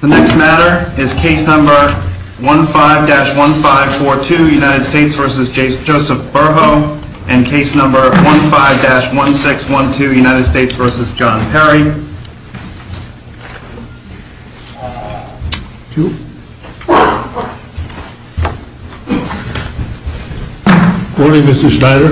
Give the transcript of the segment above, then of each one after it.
The next matter is case number 15-1542 United States v. Joseph Burhoe and case number 15-1612 United States v. John Perry Good morning, Mr. Schneider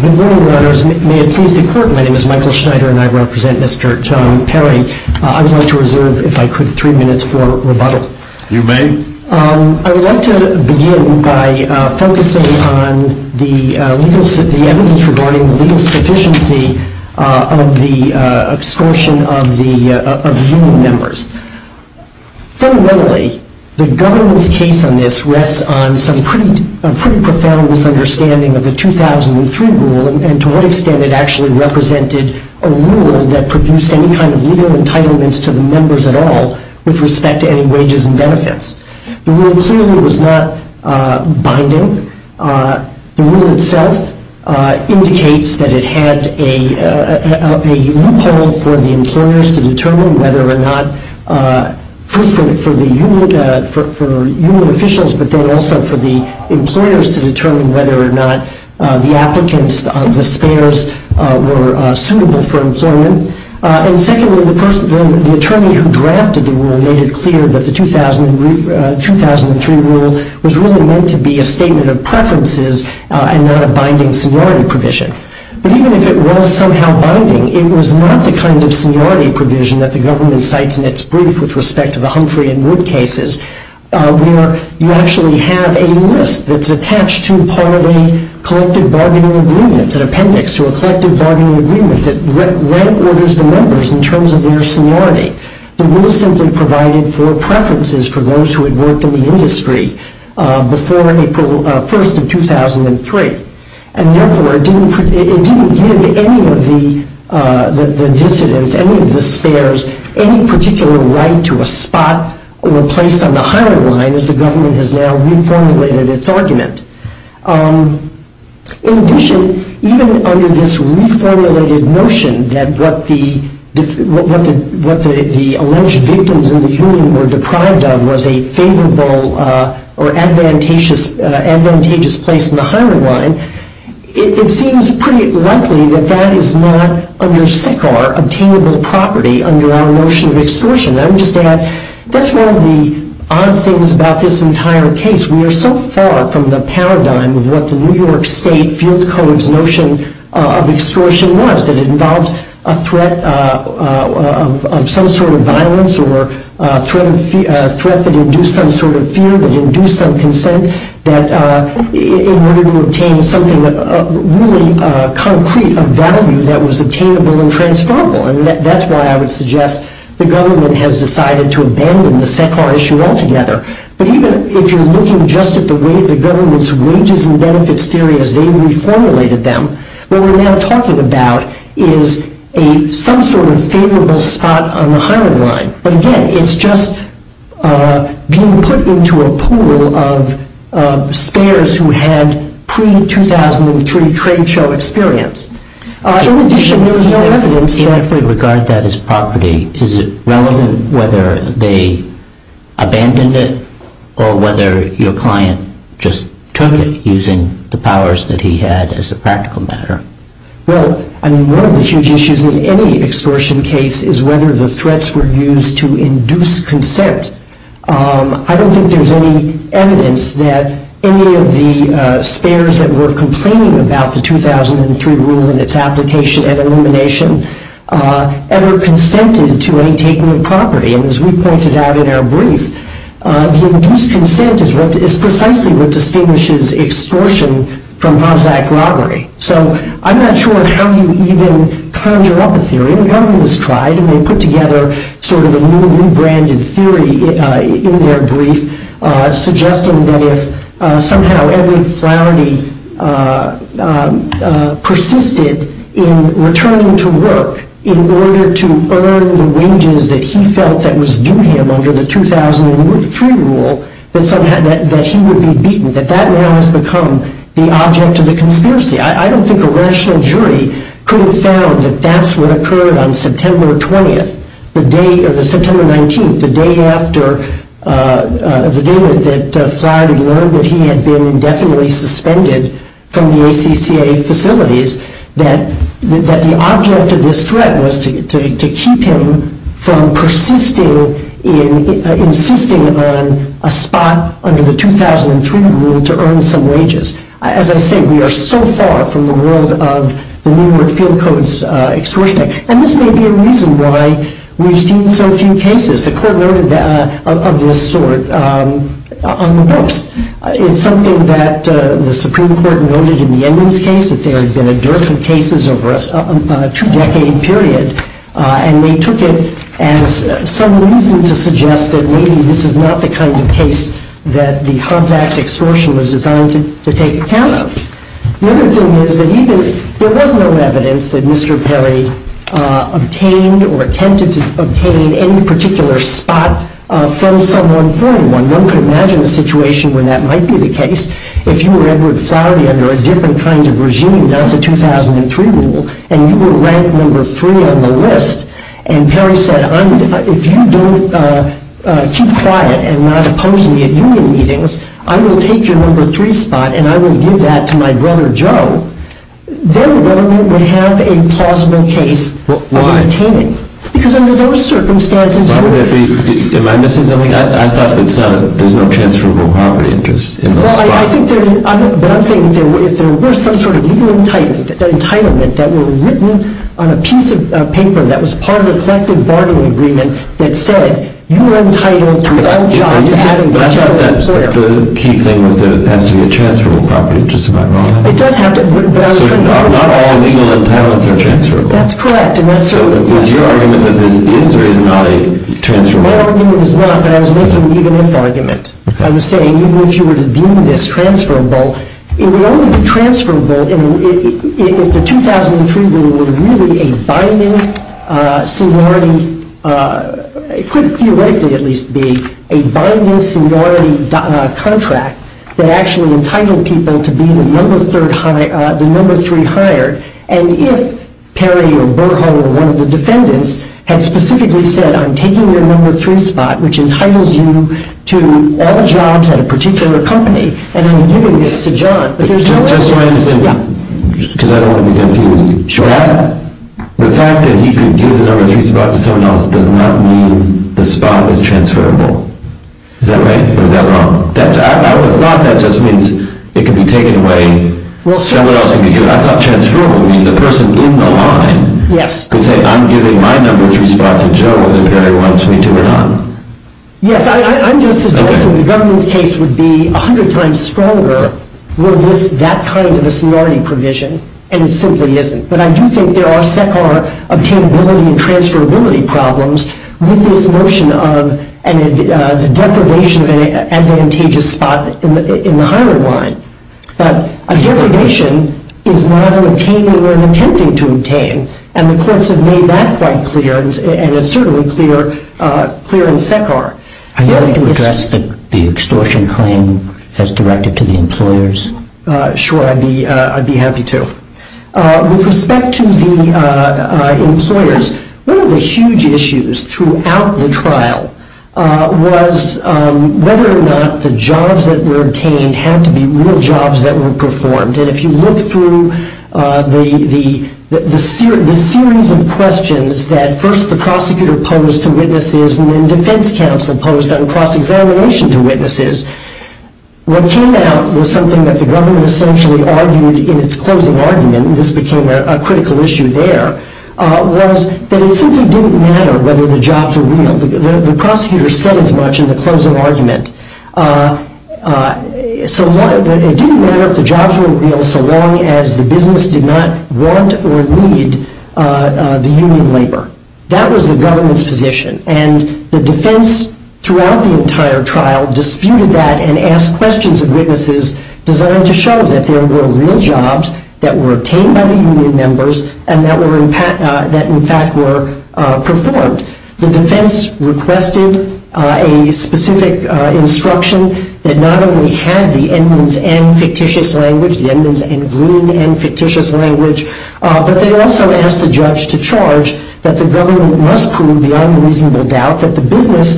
Good morning, Your Honor. My name is Michael Schneider and I represent Mr. John Perry. I would like to reserve, if I could, three minutes for rebuttal. You may. I would like to begin by focusing on the evidence regarding the legal sufficiency of the extortion of human members. Fundamentally, the government's case on this rests on some pretty profound misunderstanding of the 2003 rule and to what extent it actually represented a rule that produced any kind of legal entitlements to the members at all with respect to any wages and benefits. The rule clearly was not binding. The rule itself indicates that it had a loophole for the employers to determine whether or not, first of all, for human officials, but then also for the employers to determine whether or not the applicants, the spares, were suitable for employment. And secondly, the attorney who drafted the rule made it clear that the 2003 rule was really meant to be a statement of preferences and not a binding seniority provision. But even if it was somehow binding, it was not the kind of seniority provision that the government cites in its brief with respect to the Humphrey and Wood cases where you actually have a list that's attached to a part of a collective bargaining agreement, an appendix to a collective bargaining agreement, that records the members in terms of their seniority. The rule simply provided for preferences for those who had worked in the industry before April 1st of 2003 and, therefore, it didn't give any of the dissidents, any of the spares, any particular right to a spot or a place on the hiring line, as the government has now reformulated its argument. In addition, even under this reformulated notion that what the alleged victims in the hearing were deprived of was a favorable or advantageous place on the hiring line, it seems pretty likely that that is not, under SECAR, obtainable property under our notion of extortion. I'm just going to add, that's one of the odd things about this entire case. We are so far from the paradigm of what the New York State Field Code's notion of extortion was, that it involves a threat of some sort of violence or a threat that induced some sort of fear, that induced some consent, that in order to obtain something really concrete of value that was attainable and transferrable. And that's why I would suggest the government has decided to abandon the SECAR issue altogether. But even if you're looking just at the way the government's wages and benefits theory as they reformulated them, what we're now talking about is some sort of favorable spot on the hiring line. But, again, it's just being put into a pool of spares who had pre-2003 trade show experience. In addition, there is no evidence to actually regard that as property. Is it relevant whether they abandoned it or whether your client just took it using the powers that he had as a practical matter? Well, I mean, one of the huge issues with any extortion case is whether the threats were used to induce consent. I don't think there's any evidence that any of the spares that were complaining about the 2003 rule and its application and elimination ever consented to any taking of property. And as we pointed out in our brief, the induced consent is precisely what distinguishes extortion from harzak robbery. So I'm not sure how you even conjure up a theory. And they put together sort of a new branded theory in their brief suggesting that if somehow Edwin Flowney persisted in returning to work in order to earn the wages that he felt that was due him under the 2003 rule, that he would be beaten, that that now has become the object of the conspiracy. I don't think a rational jury could have found that that's what occurred on September 19th, the day that Flowney learned that he had been indefinitely suspended from the ACCA facilities, that the object of this threat was to keep him from persisting in insisting on a spot under the 2003 rule to earn some wages. As I say, we are so far from the world of the New York Field Codes extortion act. And this may be a reason why we've seen so few cases of this sort on the books. It's something that the Supreme Court noted in the Edmunds case that there have been a dearth of cases over a two-decade period. And we took it as some movement to suggest that maybe this is not the kind of case that the Hobbs Act extortion was designed to take account of. Another thing was that there was no evidence that Mr. Perry obtained or attempted to obtain any particular spot from someone from when one could imagine a situation when that might be the case. If you were Edward Flowney under a different kind of regime, not the 2003 rule, and you were ranked number three on the list, and Perry said, if you don't keep quiet and not oppose me at union meetings, I will take your number three spot and I will give that to my brother Joe, then the government would have a plausible case for obtaining it. Because under those circumstances, Am I missing something? I thought there's no transferable property interest in it. Well, I think there's one thing. If there were some sort of union entitlement that were written on a piece of paper that was part of an effective bargaining agreement that said, you are entitled to all jobs. But that's not the key thing of passing a transferable property interest in my mind. It does have to be. Not all unions are entitled to a transferable property interest. That's correct. It's your argument that there's a transferable property interest. My argument is not that. I was making an even-ended argument. I was saying, even if you were to do this transferable, it would only be transferable if the 2003 rule was really a binding seniority, it could theoretically at least be, a binding seniority contract that actually entitled people to be the number three hired. And if Perry, or Burkhart, or one of the defendants had specifically said, I'm taking your number three spot, which entitles you to all jobs at a particular company, and I'm giving this to John. But here's what I was trying to figure out. Because I don't want to be tempted to show that. The fact that he could give the number three spot to someone else does not mean the spot was transferable. Is that right? Or is that wrong? I would have thought that just means it could be taken away somewhere else, because I thought transferable means the person in the line could say, I'm giving my number three spot to John if Perry wants me to hire him. Yes, I'm just suggesting the government case would be a hundred times stronger with that kind of a seniority provision, and it simply isn't. But I do think there are several obtainability and transferability problems with this notion of the deprivation of an advantageous spot in the hiring line. But a deprivation is not an obtaining or an attempting to obtain, and the courts have made that quite clear, and it's certainly clear in SECAR. I'd like to address the extortion claim as directed to the employers. Sure, I'd be happy to. With respect to the employers, one of the huge issues throughout the trial was whether or not the jobs that were obtained had to be real jobs that were performed. And if you look through the series of questions that first the prosecutor posed to witnesses and then defense counsel posed on cross-evaluation to witnesses, what came out was something that the government essentially argued in its closing argument, and this became a critical issue there, was that it simply didn't matter whether the jobs were real. The prosecutor said as much in the closing argument. It didn't matter if the jobs were real so long as the business did not want or need the union labor. That was the government's position. And the defense throughout the entire trial disputed that and asked questions of witnesses designed to show that there were real jobs that were obtained by the union members and that in fact were performed. The defense requested a specific instruction that not only had the endman's end fictitious language, but they also asked the judge to charge that the government must prove the unreasonable doubt that the business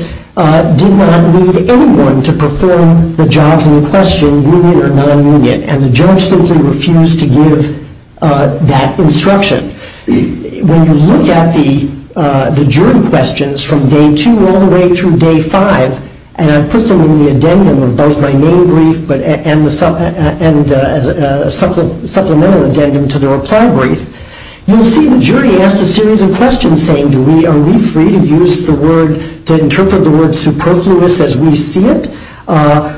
did not need anyone to perform the jobs in question, union or non-union. And the judge simply refused to give that instruction. When you look at the jury questions from day two all the way through day five, and I put them in the addendum of both my main brief and the supplemental addendum to the reply brief, you'll see the jury asks a series of questions saying, do we, are we free to use the word, to interpret the word superfluous as we see it?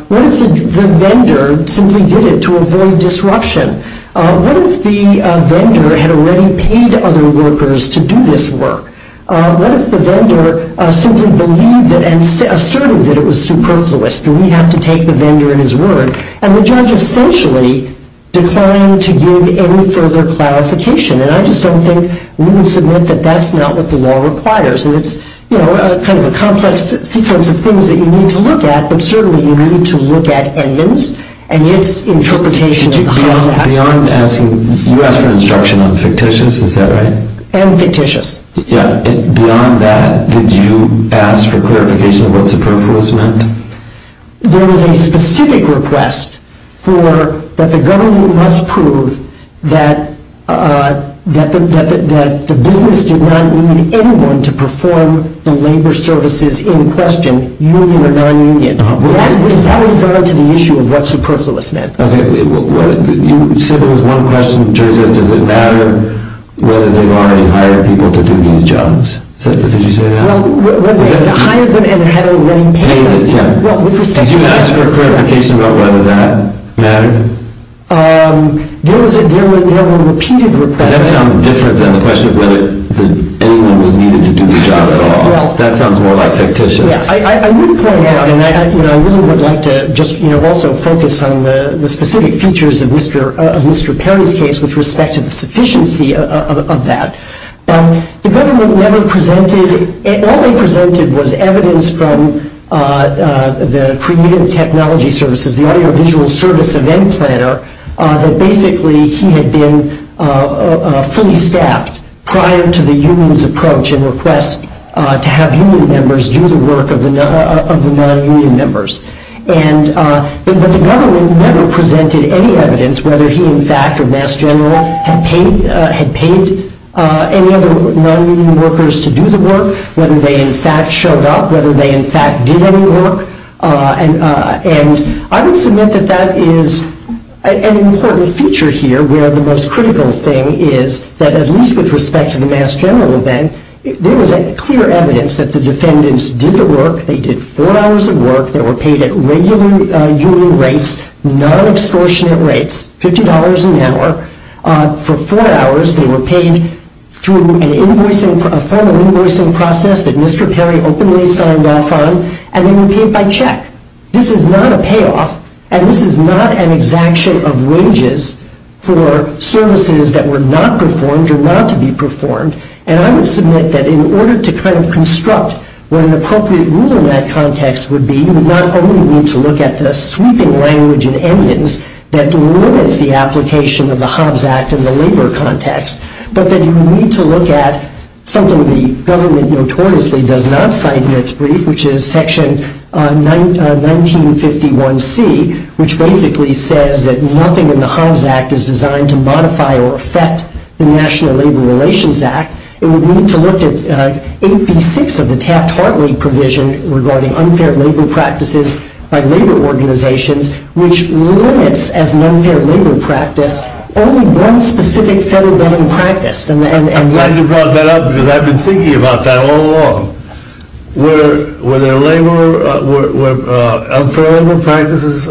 What if the vendor simply did it to avoid disruption? What if the vendor had already paid other workers to do this work? What if the vendor simply believed it and asserted that it was superfluous? Do we have to take the vendor in his word? And the judge essentially declined to give any further clarification. And I just don't think we would submit that that's not what the law requires. And it's, you know, kind of a complex sequence of things that you need to look at, but certainly you need to look at endman's and his interpretation beyond that. You asked for instruction on fictitious, is that right? And fictitious. Yeah, and beyond that, did you ask for clarification about what superfluous meant? There was a specific request for that the government must prove that, that the business did not need anyone to perform the labor services in question, union or non-union. That is relevant to the issue of what superfluous meant. Okay. You said there was one question, which is, does it matter whether they want to hire people to do these jobs? Did you say that? Hire them and hire them when they can. Did you ask for clarification about whether that mattered? There was a repeated request. That sounds different than the question of whether anyone was needed to do the job at all. That sounds more like fictitious. I really would like to also focus on the specific features of Mr. Perry's case with respect to the sufficiency of that. The government never presented, all they presented was evidence from the Premier of Technology Services, the audiovisual service event planner, that basically he had been fully staffed prior to the union's approach and request to have union members do the work of the non-union members. And the government never presented any evidence whether he, in fact, or Mass General had paid any other non-union workers to do the work, whether they, in fact, showed up, whether they, in fact, did any work. And I would submit that that is an important feature here, where the most critical thing is that at least with respect to the Mass General event, there was clear evidence that the defendants did the work, they did four hours of work, they were paid at regular union rates, non-extortionate rates, $50 an hour for four hours. They were paid through a form of invoicing process that Mr. Perry openly signed off on, and they were paid by check. This is not a payoff, and this is not an exaction of wages for services that were not performed or not to be performed. And I would submit that in order to kind of construct what an appropriate rule in that context would be, you would not only need to look at the sweeping language and endings that delimit the application of the Hobbs Act in the labor context, but that you need to look at something the government notoriously does not cite in its brief, which is section 1951C, which basically says that nothing in the Hobbs Act is designed to modify or affect the National Labor Relations Act. It would mean to look at 86 of the Taft-Hartley provision regarding unfair labor practices by labor organizations, which limits as an unfair labor practice only one specific federal practice. I'm glad you brought that up because I've been thinking about that all along. Were there unfair labor practices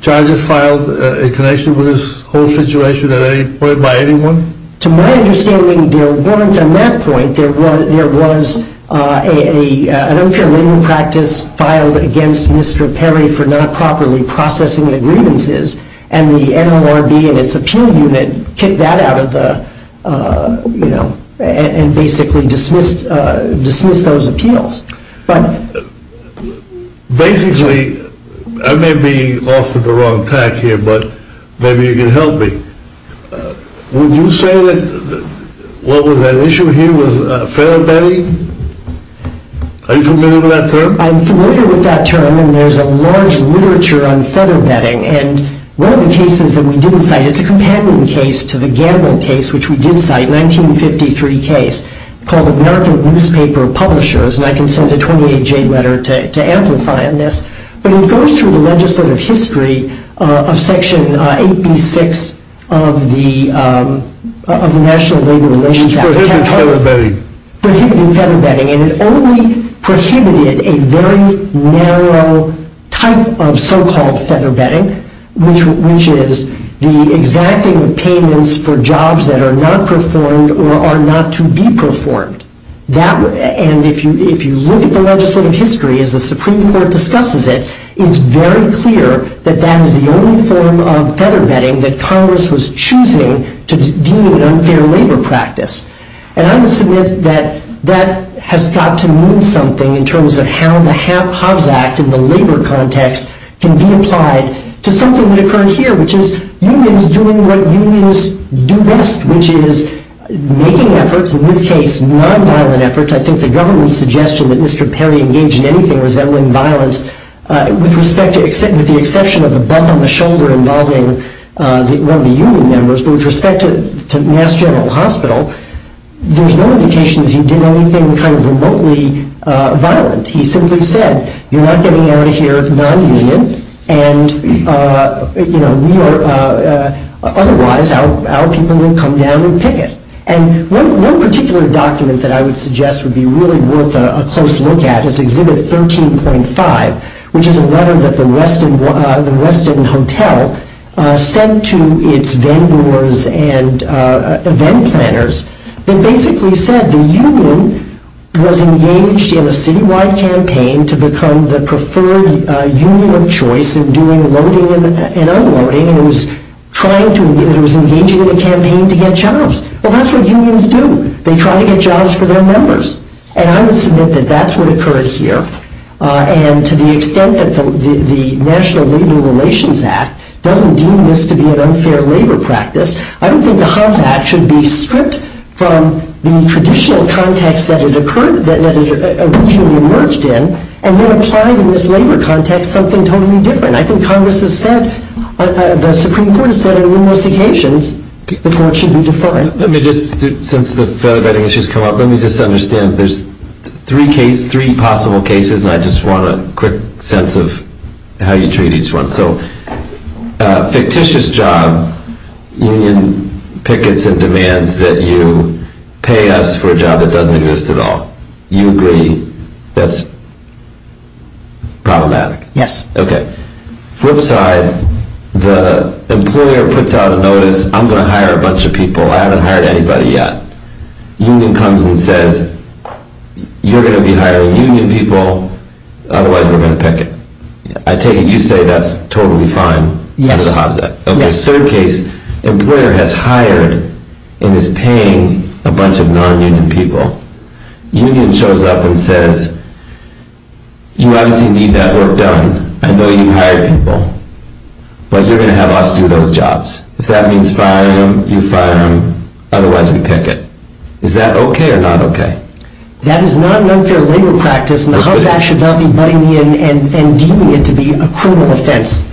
charges filed in connection with this whole situation at any point by anyone? To my understanding, there weren't on that point. There was an unfair labor practice filed against Mr. Perry for not properly processing the grievances, and the NLRB and its appeal unit kicked that out and basically dismissed those appeals. Basically, I may be off at the wrong tack here, but maybe you can help me. Would you say that what was at issue here was federal betting? Are you familiar with that term? I'm familiar with that term, and there's a large literature on federal betting. One of the cases that we didn't cite is a companion case to the Gamble case, which we did cite, a 1953 case, called the Market Newspaper Publishers. I can send a 28-J letter to amplify on this. But it goes through the Legislative History of Section 86 of the National Labor Relations Act. It prohibited federal betting, and it only prohibited a very narrow type of so-called federal betting, which is the exacting of payments for jobs that are not performed or are not to be performed. If you look at the legislative history as the Supreme Court discusses it, it's very clear that that is the only form of federal betting that Congress was choosing to deem an unfair labor practice. And I would submit that that has got to mean something in terms of how the Hobbs Act in the labor context can be applied to something that occurred here, which is unions doing what unions do best, which is making efforts, in this case nonviolent efforts. I think the government's suggestion that Mr. Perry engage in anything resembling violence, with the exception of a bump on the shoulder involving one of the union members, but with respect to Mass General Hospital, there's no indication that he did anything remotely violent. He simply said, you're not getting out of here non-union, and otherwise our people will come down and picket. And one particular document that I would suggest would be really worth a close look at is Exhibit 13.5, which is a letter that the Westin Hotel sent to its vendors and event planners. It basically said the union was engaged in a citywide campaign to become the preferred union of choice in terms of doing loading and unloading, and it was engaging in a campaign to get jobs. Well, that's what unions do. They try to get jobs for their members. And I would submit that that's what occurs here. And to the extent that the National Labor Relations Act doesn't deem this to be an unfair labor practice, I don't think the Hobbs Act should be stripped from the traditional context that it originally emerged in and then apply to this labor context something totally different. I think Congress has said, or the Supreme Court has said in investigations, that's what should be defined. Let me just, since the vetting has just come up, let me just understand. There's three possible cases, and I just want a quick sense of how you treat each one. So, a fictitious job, union pickets and demands that you pay us for a job that doesn't exist at all. You agree that's problematic. Yes. Okay. Flip side, the employer puts out a notice, I'm going to hire a bunch of people. I haven't hired anybody yet. Union comes and says, you're going to be hiring union people, otherwise they're going to picket. I take it you say that's totally fine with the Hobbs Act. Yes. Okay, third case, employer has hired and is paying a bunch of non-union people. Union shows up and says, you obviously need that work done. I know you hired people, but you're going to have us do those jobs. If that means firing them, you fire them. Otherwise, we picket. Is that okay or not okay? That is not an unfair labor practice, and the Hobbs Act should not be butting in and deeming it to be a criminal offense.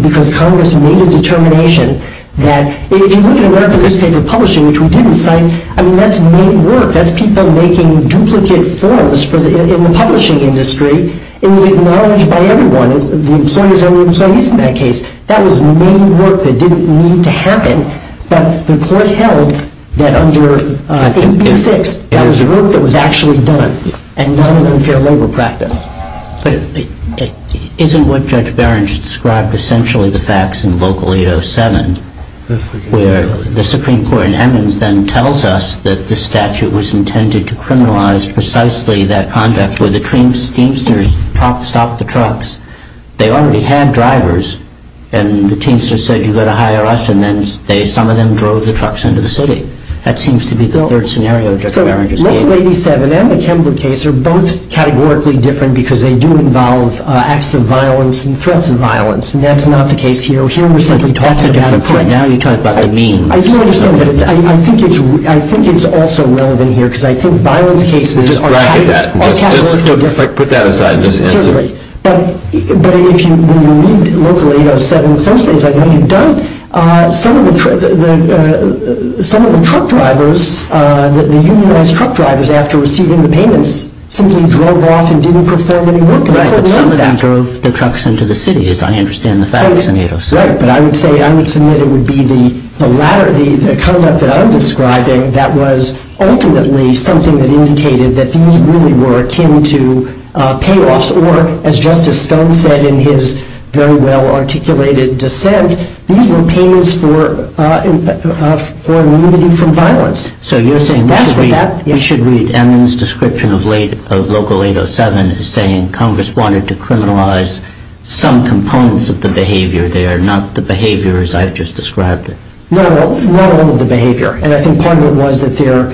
Because Congress made a determination that if you need to work on this type of publishing, which we didn't, that's made work. That's people making duplicate forms in the publishing industry. It was acknowledged by everyone. So and so used in that case. That was made work that didn't need to happen. But the court held that under 826, that was work that was actually done, and not an unfair labor practice. Isn't what Judge Behrens described essentially the facts in Vocal 807, where the Supreme Court in Emmons then tells us that the statute was intended to criminalize precisely that contract where the teamsters stopped the trucks. They already had drivers, and the teamsters said, you've got to hire us, and then some of them drove the trucks into the city. That seems to be the third scenario Judge Behrens is stating. Vocal 807 and the Tenwood case are both categorically different because they do involve acts of violence and threats of violence. And that's not the case here. O'Shea recently talked about it. That's a different point. Now you're trying to talk to me. I do understand that. I think it's also relevant here because I think violent cases are categorically different. Just bragging that. Just put that aside. But if you read Vocal 807, essentially it's like what you've done. Some of the truck drivers, the unionized truck drivers after receiving the payments, simply drove off and didn't perform any work. I think it's somewhat after the trucks went into the city, if I understand the facts. Right, but I would say I would submit it would be the latter, the truck that I'm describing, that was ultimately something that indicated that these really were akin to payoffs. Or, as Justice Stone said in his very well-articulated dissent, these were payments for removing from violence. So you're saying you should read Emin's description of Local 807 as saying Congress wanted to criminalize some components of the behavior there, not the behavior as I've just described it. No, not all of the behavior. And I think part of it was that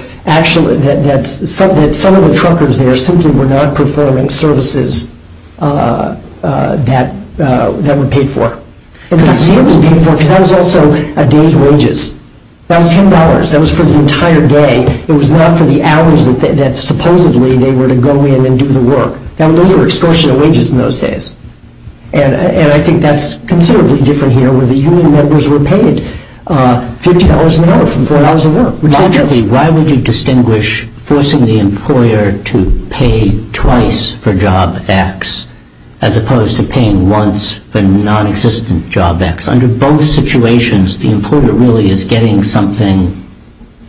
some of the truckers there simply were not performing services that were paid for. That was also a day's wages. That was $10. That was for the entire day. It was not for the hours that supposedly they were to go in and do the work. Now those were excursional wages in those days. And I think that's considerably different here where the union members were paid $15 an hour for four hours of work. Why would you distinguish forcing the employer to pay twice for job X as opposed to paying once for non-existent job X? Under both situations, the employer really is getting something,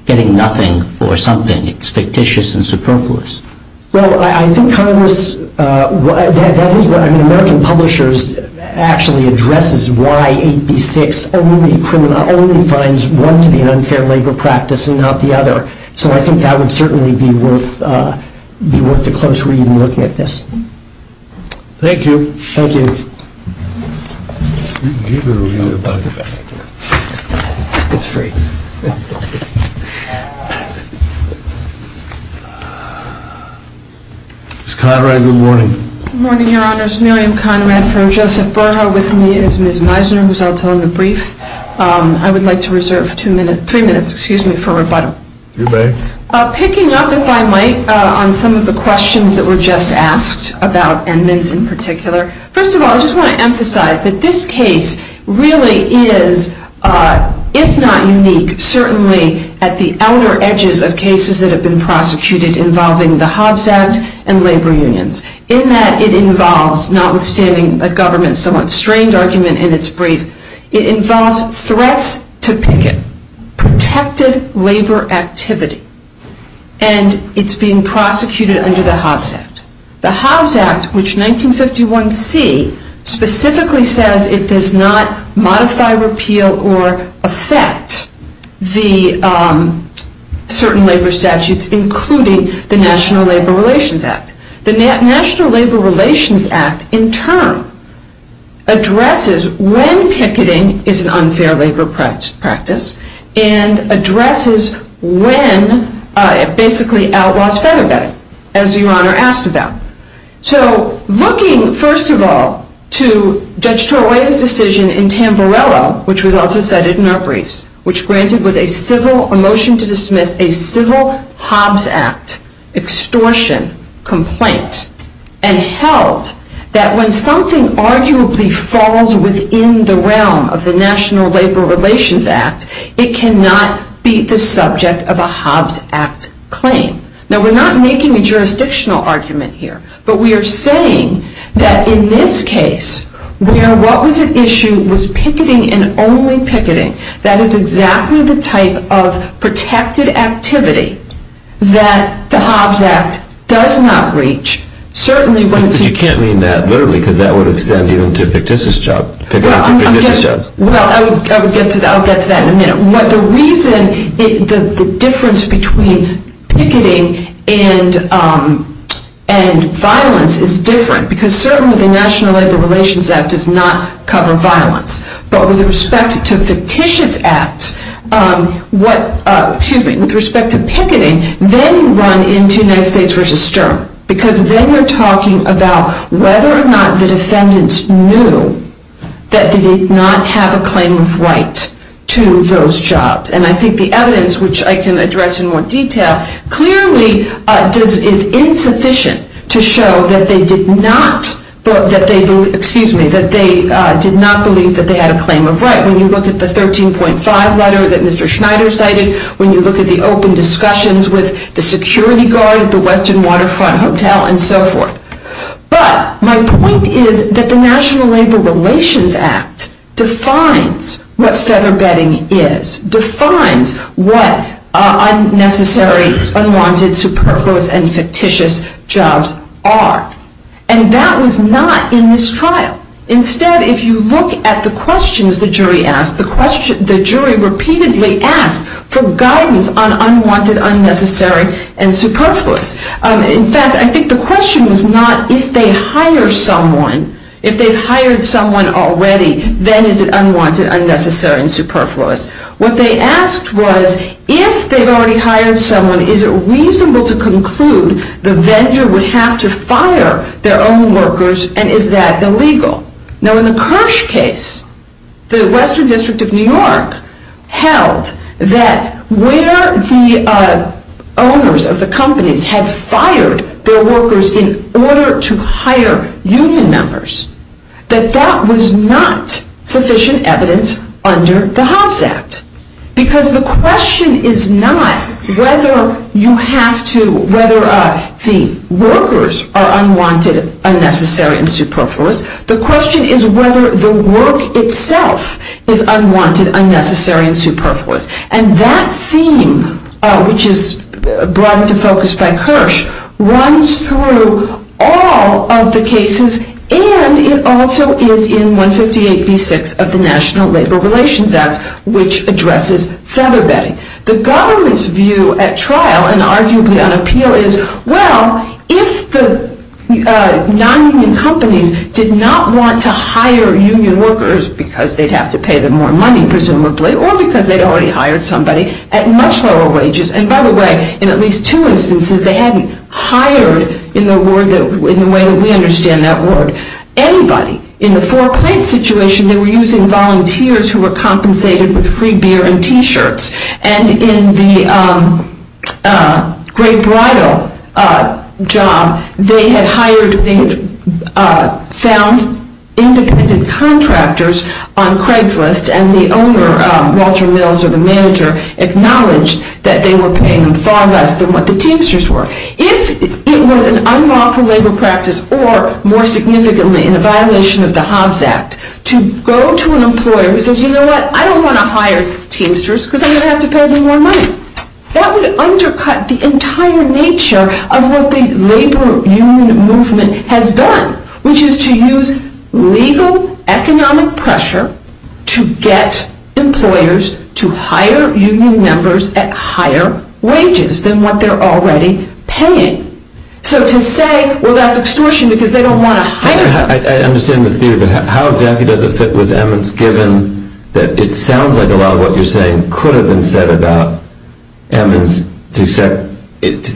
getting nothing for something. It's fictitious and superfluous. Well, I think Congress, I mean American Publishers actually addresses why AP6 only finds one to be an unfair labor practice and not the other. So I think that would certainly be worth the close reading looking at this. Thank you. Thank you. Ms. Conrad, good morning. Good morning, Your Honors. Miriam Conrad here. Joseph Bernhardt with me as Ms. Meisner was also in the brief. I would like to reserve two minutes, three minutes, excuse me, for rebuttal. Go ahead. Picking up, if I might, on some of the questions that were just asked about Edmonds in particular. First of all, I just want to emphasize that this case really is, if not unique, certainly at the outer edges of cases that have been prosecuted involving the Hobbs Act and labor unions. In that it involves, notwithstanding a government somewhat strained argument in its brief, it involves threats to picket, protected labor activity, and it's being prosecuted under the Hobbs Act. The Hobbs Act, which 1951c, specifically says it does not modify, repeal, or affect the certain labor statutes, including the National Labor Relations Act. The National Labor Relations Act, in turn, addresses when picketing is an unfair labor practice and addresses when, basically, outlaws federal debt, as Your Honor asked about. So, looking, first of all, to Judge Torreira's decision in Tamberello, which was also cited in our briefs, which granted with a civil motion to dismiss a civil Hobbs Act extortion complaint and held that when something arguably falls within the realm of the National Labor Relations Act, it cannot be the subject of a Hobbs Act claim. Now, we're not making a jurisdictional argument here, but we are saying that in this case, where what was at issue was picketing and only picketing, that is exactly the type of protected activity that the Hobbs Act does not reach. You can't mean that literally, because that would extend even to fictitious jobs. Well, I'll get to that in a minute. But the reason, the difference between picketing and violence is different, because certainly the National Labor Relations Act does not cover violence. But with respect to fictitious acts, with respect to picketing, then you run into United States v. Stern, because then you're talking about whether or not the defendants knew that they did not have a claim of right to those jobs. And I think the evidence, which I can address in more detail, clearly is insufficient to show that they did not believe that they had a claim of right. When you look at the 13.5 letter that Mr. Schneider cited, when you look at the open discussions with the security guard at the Western Waterfront Hotel and so forth. But my point is that the National Labor Relations Act defines what feather bedding is, defines what unnecessary, unwanted, superfluous, and fictitious jobs are. And that was not in this trial. Instead, if you look at the questions the jury asked, the jury repeatedly asked for guidance on unwanted, unnecessary, and superfluous. In fact, I think the question was not if they hire someone, if they've hired someone already, then is it unwanted, unnecessary, and superfluous. What they asked was if they've already hired someone, is it reasonable to conclude the vendor would have to fire their own workers, and is that illegal? Now in the Kirsch case, the Western District of New York held that where the owners of the company had fired their workers in order to hire union members, that that was not sufficient evidence under the Hobbs Act. Because the question is not whether you have to, whether the workers are unwanted, unnecessary, and superfluous. The question is whether the work itself is unwanted, unnecessary, and superfluous. And that theme, which is brought into focus by Kirsch, runs through all of the cases, and it also is in 158b-6 of the National Labor Relations Act, which addresses Satterbay. The government's view at trial, and arguably on appeal, is, well, if the non-union companies did not want to hire union workers because they'd have to pay them more money, presumably, or because they'd already hired somebody, at much lower wages. And by the way, in at least two instances, they hadn't hired, in the way that we understand that word, anybody. In the Four Crates situation, they were using volunteers who were compensated with free beer and T-shirts. And in the Great Bridal job, they had hired and found independent contractors on Craigslist, and the owner, Walter Mills, or the manager, acknowledged that they were paying far less than what the Teamsters were. If it was an unlawful labor practice, or, more significantly, in violation of the Hans Act, to go to an employer who says, you know what, I don't want to hire Teamsters because I'm going to have to pay them more money, that would undercut the entire nature of what the labor union movement has done, which is to use legal economic pressure to get employers to hire union members at higher wages than what they're already paying. So to say, well, that's extortion because they don't want to hire them. I understand the theory, but how exactly was Evans given that it sounds like a lot of what you're saying could have been said about Evans, to the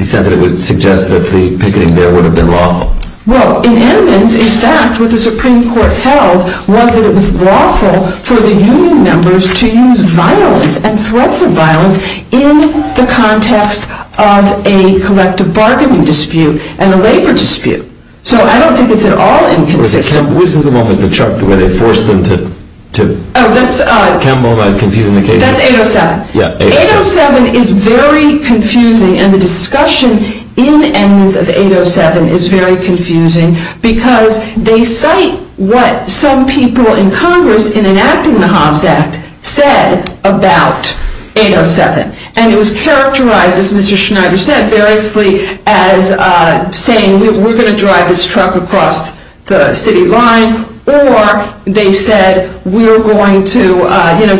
extent that it would suggest that the picketing there would have been wrong? Well, in Evans, in fact, what the Supreme Court held was that it was lawful for the union members to use violence and threats of violence in the context of a collective bargaining dispute and a labor dispute. So I don't think it's at all confusing. This is the one with the truck where they forced them to come over and compete in the case. That's 807. 807 is very confusing, and the discussion in the eminence of 807 is very confusing because they cite what some people in Congress, in enacting the Hobbs Act, said about 807. And it was characterized, as Mr. Schneider said, as saying we're going to drive this truck across the city line, or they said we're going to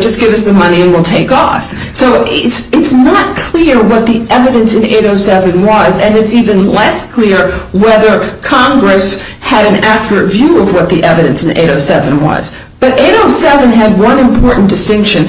just give us the money and we'll take off. So it's not clear what the evidence in 807 was, and it's even less clear whether Congress had an accurate view of what the evidence in 807 was. But 807 had one important distinction,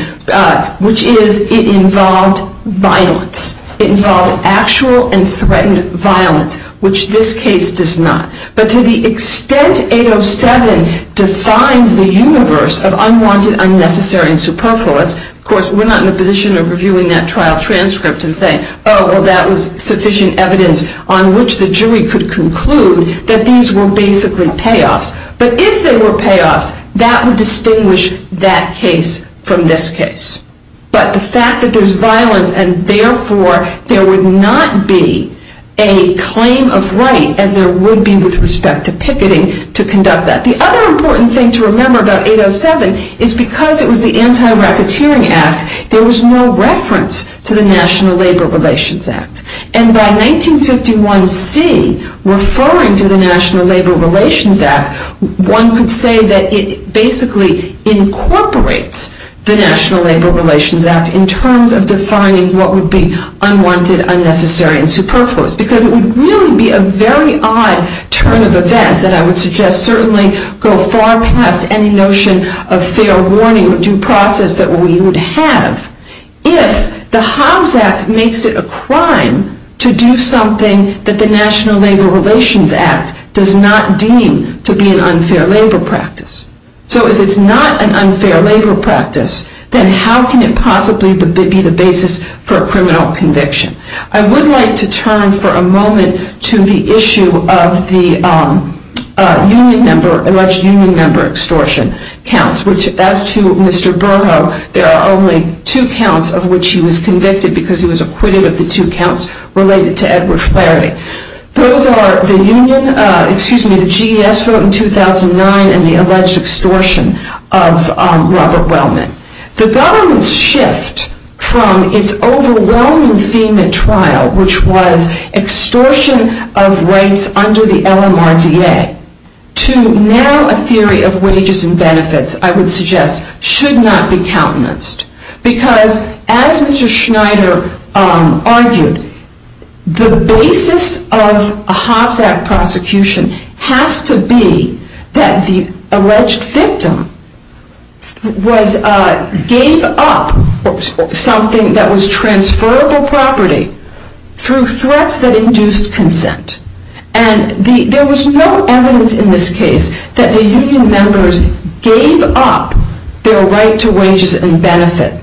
which is it involved violence. It involved actual and threatened violence, which this case does not. But to the extent 807 defines the universe of unwanted, unnecessary, and superfluous, of course, we're not in a position of reviewing that trial transcript to say, oh, that was sufficient evidence on which the jury could conclude that these were basically payoffs. But if they were payoffs, that would distinguish that case from this case. But the fact that there's violence, and therefore there would not be a claim of right, and there would be with respect to picketing to conduct that. The other important thing to remember about 807 is because it was the Anti-Racketeering Act, there was no reference to the National Labor Relations Act. And by 1951C, referring to the National Labor Relations Act, one could say that it basically incorporates the National Labor Relations Act in terms of defining what would be unwanted, unnecessary, and superfluous. Because it would really be a very odd turn of events, and I would suggest certainly go far past any notion of fair warning or due process that we would have if the Hobbs Act makes it a crime to do something that the National Labor Relations Act does not deem to be an unfair labor practice. So if it's not an unfair labor practice, then how can it possibly be the basis for a criminal conviction? I would like to turn for a moment to the issue of the alleged union member extortion counts, which as to Mr. Burhoff, there are only two counts of which he was convicted because he was acquitted of the two counts related to Edward Friere. Those are the union, excuse me, the GES vote in 2009, and the alleged extortion of Robert Wellman. The government's shift from its overwhelming theme at trial, which was extortion of rights under the LMRDA, to now a theory of wages and benefits, I would suggest, should not be countenanced. Because as Mr. Schneider argued, the basis of a Hobbs Act prosecution has to be that the alleged victim gave up something that was transferable property through threats that induced consent. And there was no evidence in this case that the union members gave up their right to wages and benefits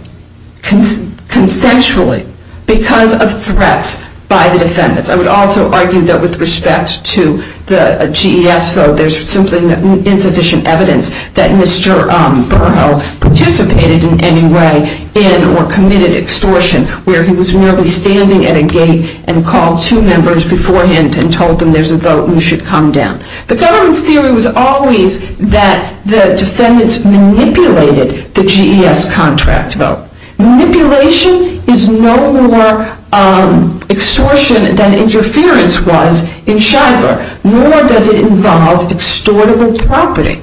consensually because of threats by the defendants. I would also argue that with respect to the GES vote, there's simply insufficient evidence that Mr. Burhoff participated in any way in or committed extortion, where he was merely standing at a gate and called two members beforehand and told them there's a vote and you should come down. The government's theory was always that the defendants manipulated the GES contract vote. Manipulation is no more extortion than interference was in Shiver, nor does it involve extortable property.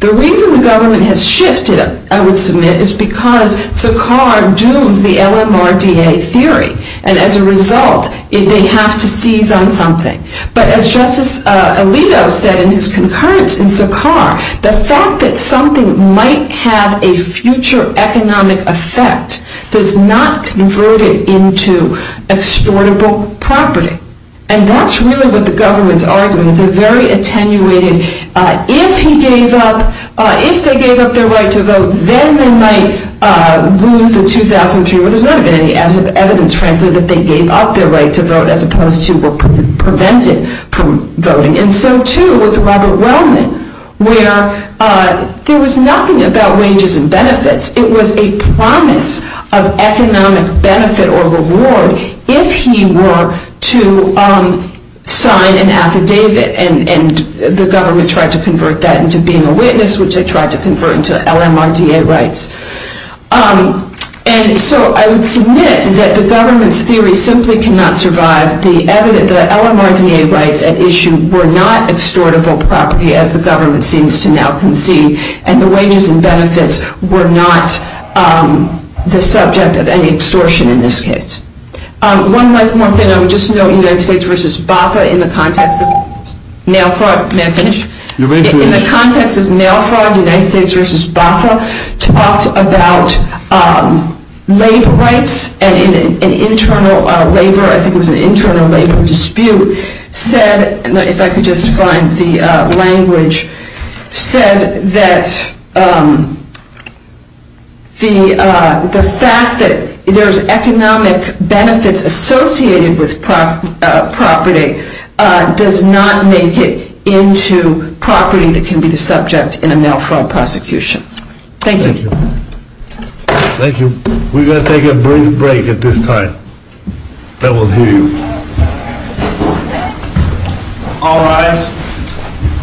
The reason the government has shifted, I would submit, is because Sarkar doomed the LMRDA theory. And as a result, they have to seize on something. But as Justice Alito said in his concurrence in Sarkar, the fact that something might have a future economic effect does not convert it into extortable property. And that's really what the government's argument is. They're very attenuated. If he gave up, if they gave up their right to vote, then they might lose the 2000 jury limit. And the evidence translates that they gave up their right to vote as opposed to were prevented from voting. And so, too, with Robert Wellman, where there was nothing about wages and benefits. It was a promise of economic benefit or reward if he were to sign an affidavit. And the government tried to convert that into being a witness, which they tried to convert into LMRDA rights. And so I would submit that the government's theory simply cannot survive. The LMRDA rights at issue were not extortable property as the government seems to now concede. And the wages and benefits were not the subject of any extortion in this case. One more thing. I would just note United States v. BACA in the context of Nelford. Can I finish? In the context of Nelford, United States v. BACA talked about labor rights. And an internal labor dispute said that the fact that there is economic benefit associated with property does not make it into property that can be the subject in a Nelford prosecution. Thank you. Thank you. We're going to take a brief break at this time. Then we'll hear you. All rise. Thank you. Thank you.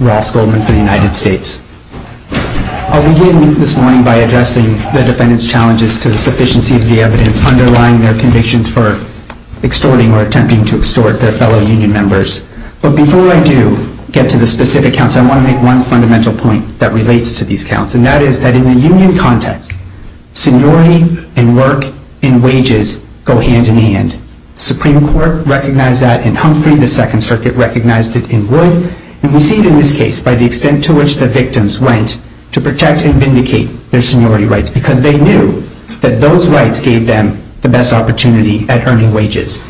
Law School of the United States. I'll begin this morning by addressing the defendant's challenges to the sufficiency of the evidence underlying their conditions for extorting or attempting to extort their fellow union members. But before I do get to the specific counts, I want to make one fundamental point that relates to these counts. And that is that in the union context, seniority and work and wages go hand in hand. The Supreme Court recognized that in Humphrey. The Second Circuit recognized it in Grove. And we see in this case by the extent to which the victims went to protect and vindicate their seniority rights. Because they knew that those rights gave them the best opportunity at earning wages.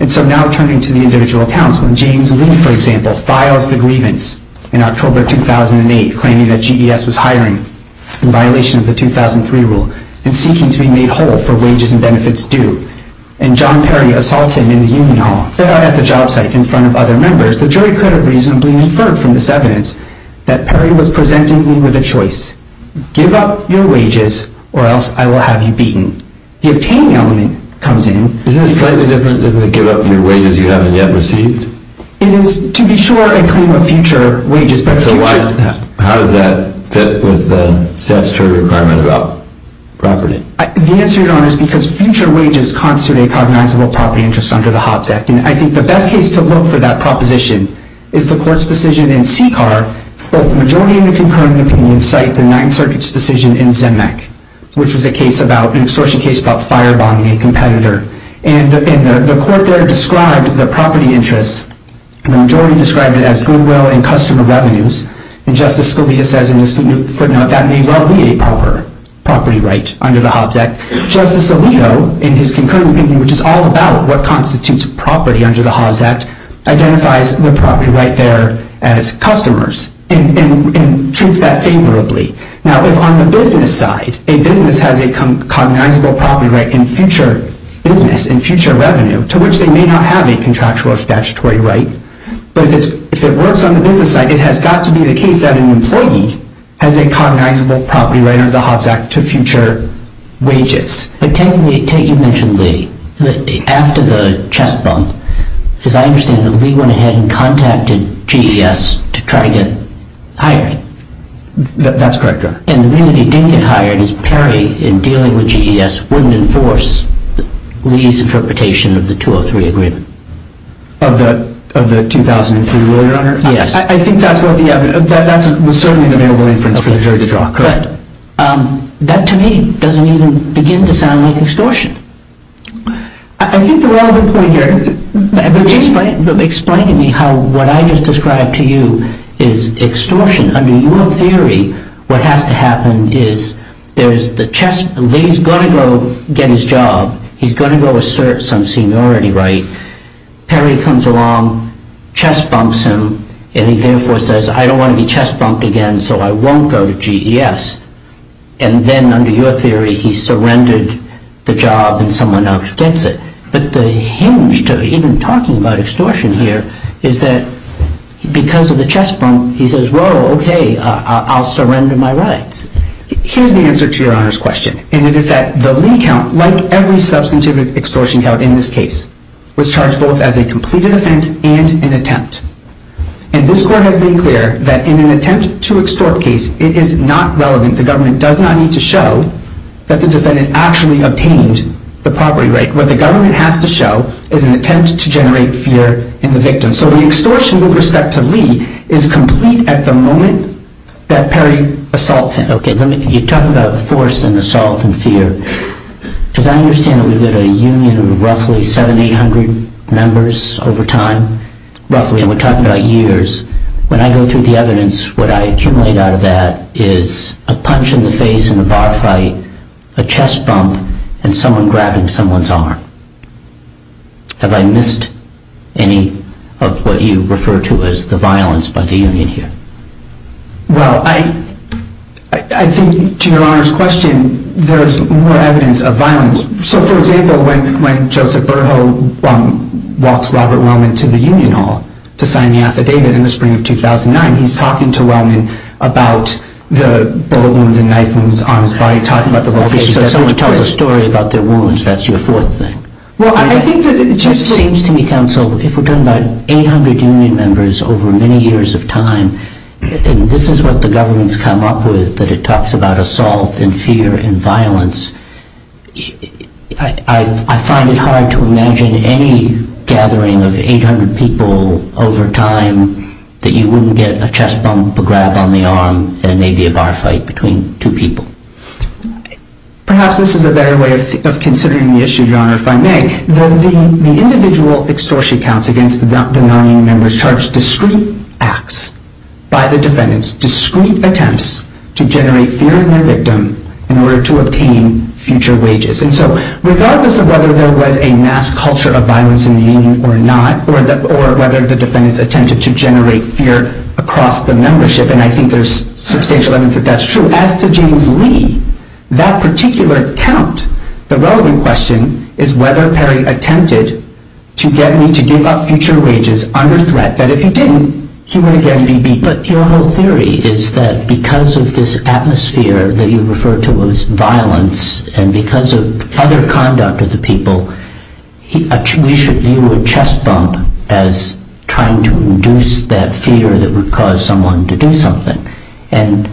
And so now turning to the individual accounts, when James Lee, for example, files the grievance in October 2008 claiming that GDS was hiring in violation of the 2003 rule and seeking to be made whole for wages and benefits due. And John Perry assaults him in the union hall. There I have the job site in front of other members. The jury could have reasonably inferred from this evidence that Perry was presenting Lee with a choice. Give up your wages or else I will have you beaten. The opinion comes in. Isn't it slightly different than give up your wages you haven't yet received? It is to be sure and claim a future wages. So how does that fit with the statutory requirement about property? The answer to that is because future wages constitute a cognizable property interest under the Hobbs Act. And I think the best case to look for that proposition is the court's decision in CCAR. Both the majority of the concurrence will incite the Ninth Circuit's decision in Zemeck. Which is a case about, an extortion case about firebombing a competitor. And the court there describes the property interest, the majority describe it as goodwill and customer revenues. And Justice Scalia says that may well be a proper property right under the Hobbs Act. Justice Alito, in his concurring opinion, which is all about what constitutes property under the Hobbs Act, identifies the property right there as customers and treats that favorably. Now if on the business side, a business has a cognizable property right in future business and future revenue, to which they may not have a contractual or statutory right, but if it works on the business side, it has got to be the case that an employee has a cognizable property right under the Hobbs Act to future wages. But Ted, you mentioned Lee, after the chest bump, because I understand that Lee went ahead and contacted GDS to try to get hired. That's correct, Your Honor. And the reason he didn't get hired is apparently in dealing with GDS, wouldn't enforce Lee's interpretation of the 203 agreement. Of the 2003 one, Your Honor? Yes. I think that's where the evidence is. That was certainly under the influence for the jury to draw. Correct. That, to me, doesn't even begin to sound like extortion. I think there's a lot of good point here. But just explain to me how what I just described to you is extortion. Under your theory, what has to happen is there's the chest bump. Lee's going to go get his job. He's going to go assert some seniority right. Terry comes along, chest bumps him, and he therefore says, I don't want to be chest bumped again, so I won't go to GDS. And then, under your theory, he surrendered the job and someone else gets it. But the hinge to even talking about extortion here is that because of the chest bump, he says, well, okay, I'll surrender my rights. Here's the answer to Your Honor's question. And it is that the Lee count, like every substantive extortion count in this case, was charged both as a completed offense and an attempt. And this court has made clear that in an attempt to extort case, it is not relevant. The government does not need to show that the defendant actually obtained the property right. What the government has to show is an attempt to generate fear in the victim. So the extortion with respect to Lee is complete at the moment that Terry assaults him. Okay, when you talk about force and assault and fear, because I understand that we have a union of roughly 7,800 members over time, roughly, and we're talking about years. When I go through the evidence, what I accumulate out of that is a punch in the face in a bar fight, a chest bump, and someone grabbing someone's arm. Have I missed any of what you refer to as the violence by the union here? Well, I think, to Your Honor's question, there's more evidence of violence. So, for example, when Joseph Berho walks Robert Wellman to the union hall to sign the affidavit in the spring of 2009, he's talking to Wellman about the bullet wound and knife wound on his body, talking about the violations. So if someone tells a story about their wounds, that's your fourth thing. Well, I think it just seems to me, counsel, if we're talking about 800 union members over many years of time, and this is what the government's come up with, that it talks about assault and fear and violence, I find it hard to imagine any gathering of 800 people over time that you wouldn't get a chest bump, a grab on the arm, and maybe a bar fight between two people. Perhaps this is a better way of considering the issue, Your Honor, if I may. The individual extortion counts against the non-union members charge discrete acts by the defendants, discrete attempts to generate fear in the victim in order to obtain future wages. And so, regardless of whether there was a mass culture of violence in the union or not, or whether the defendants attempted to generate fear across the membership, and I think there's substantial evidence that that's true, as to James Lee, that particular count, the relevant question is whether Perry attempted to get Lee to give up future wages under threat, that if he didn't, he would again be beaten. But your whole theory is that because of this atmosphere that you refer to as violence, and because of other conduct of the people, we should view a chest bump as trying to induce that fear that would cause someone to do something. And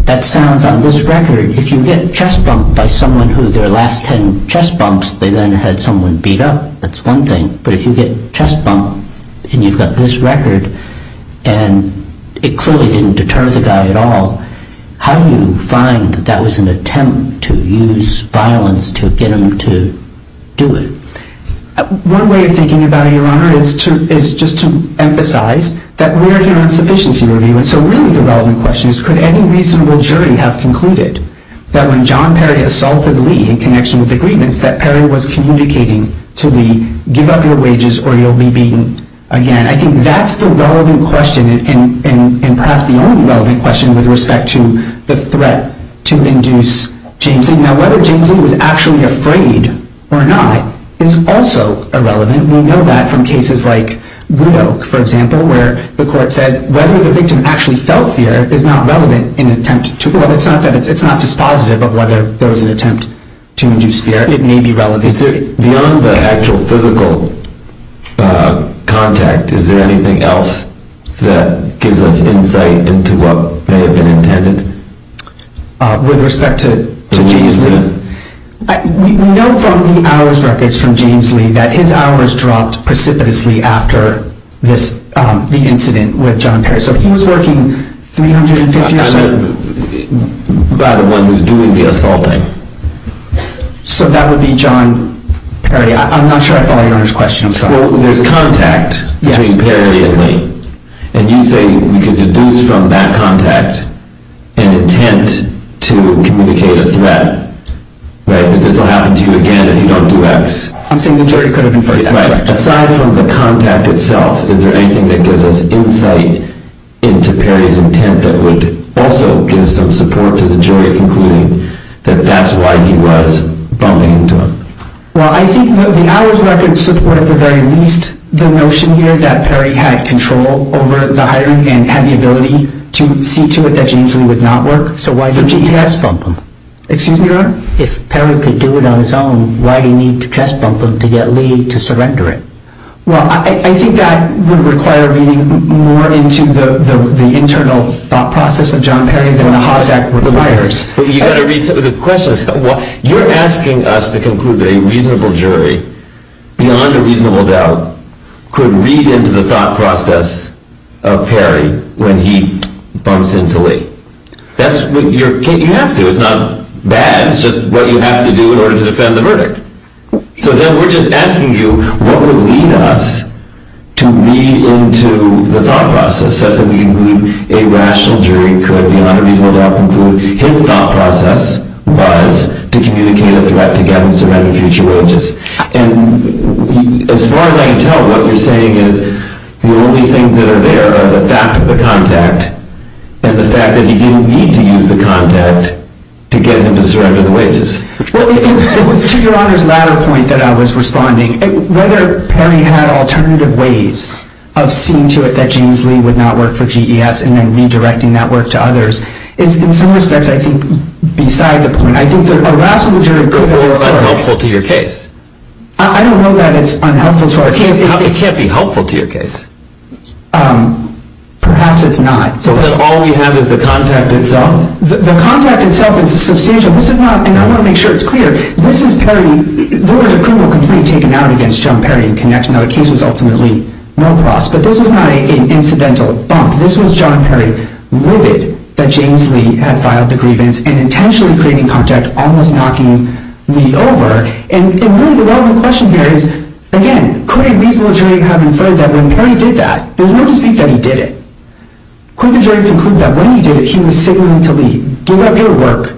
that sounds, on this record, if you get chest bumped by someone who their last ten chest bumps, they then had someone beat up, that's one thing. But if you get chest bumped, and you've got this record, and it clearly didn't deter the guy at all, how do you find that that was an attempt to use violence to get him to do it? One way of thinking about it, Your Honor, is just to emphasize that we're here on sufficient theory, and so really the relevant question is could any reasonable jury have concluded that when John Perry assaulted Lee in connection with agreements, that Perry was communicating to Lee, give up your wages or you'll be beaten? Again, I think that's the relevant question, and perhaps the only relevant question with respect to the threat to induce James Lee. Now whether James Lee was actually afraid or not is also irrelevant. We know that from cases like Wood Oak, for example, where the court said whether the victim actually felt fear is not relevant in an attempt to, well, it's not that it's not dispositive of whether there was an attempt to induce fear. It may be relevant. Beyond the actual physical contact, is there anything else that gives us insight into what may have been intended with respect to James Lee? We know from the hours records from James Lee that his hours dropped precipitously after the incident with John Perry. So he was working three hundred and fifty hours a week. By the one who's doing the assaulting. So that would be John Perry. I'm not sure I follow Your Honor's question. Well, there's contact between Perry and Lee. And you say you could deduce from that contact an intent to communicate a threat. That this will happen to you again if you don't do X. I'm saying the jury couldn't do X. Aside from the contact itself, is there anything that gives us insight into Perry's intent that would also give some support to the jury concluding that that's why he was bumping into him? Well, I think the hours records support at the very least the notion here that Perry had control over the hiring and had the ability to see to it that James Lee would not work. So why didn't you just bump him? Excuse me, Your Honor? If Perry could do it on his own, why do you need to just bump him to get Lee to surrender it? Well, I think that would require reading more into the internal thought process of John Perry than a Haas Act requires. But you've got to read some of the questions. You're asking us to conclude that a reasonable jury, beyond a reasonable doubt, could read into the thought process of Perry when he bumps into Lee. You have to. It's not bad. It's just what you have to do in order to defend the verdict. So then we're just asking you what would lead us to read into the thought process so that we can conclude a rational jury could, beyond a reasonable doubt, conclude that his thought process was to communicate a threat to get him to surrender future wages. And as far as I can tell, what you're saying is the only things that are there are the fact of the contact and the fact that you need to use the contact to get him to surrender the wages. Well, it was to Your Honor's latter point that I was responding. Whether Perry had alternative ways of seeing to it that James Lee would not work for GES and then redirecting that work to others is, in some respects, I think, beside the point. I think the rational jury could be a little unhelpful to your case. I don't know that it's unhelpful to our case. It can't be helpful to your case. Perhaps it's not. So all we have is the contact itself? The contact itself is a suspicion. And I want to make sure it's clear. This is Perry. There was a criminal complaint taken out against John Perry in connection to our case results in the lead. No cross. But this was not an incidental bump. This was John Perry, witted that James Lee had filed the grievance and intentionally created contact, almost knocking Lee over. And really, the bottom of the question there is, again, could a reasonable jury have inferred that when Perry did that, there was no deceit that he did it? Could the jury conclude that when he did it, he was signaling to Lee, Give up your work.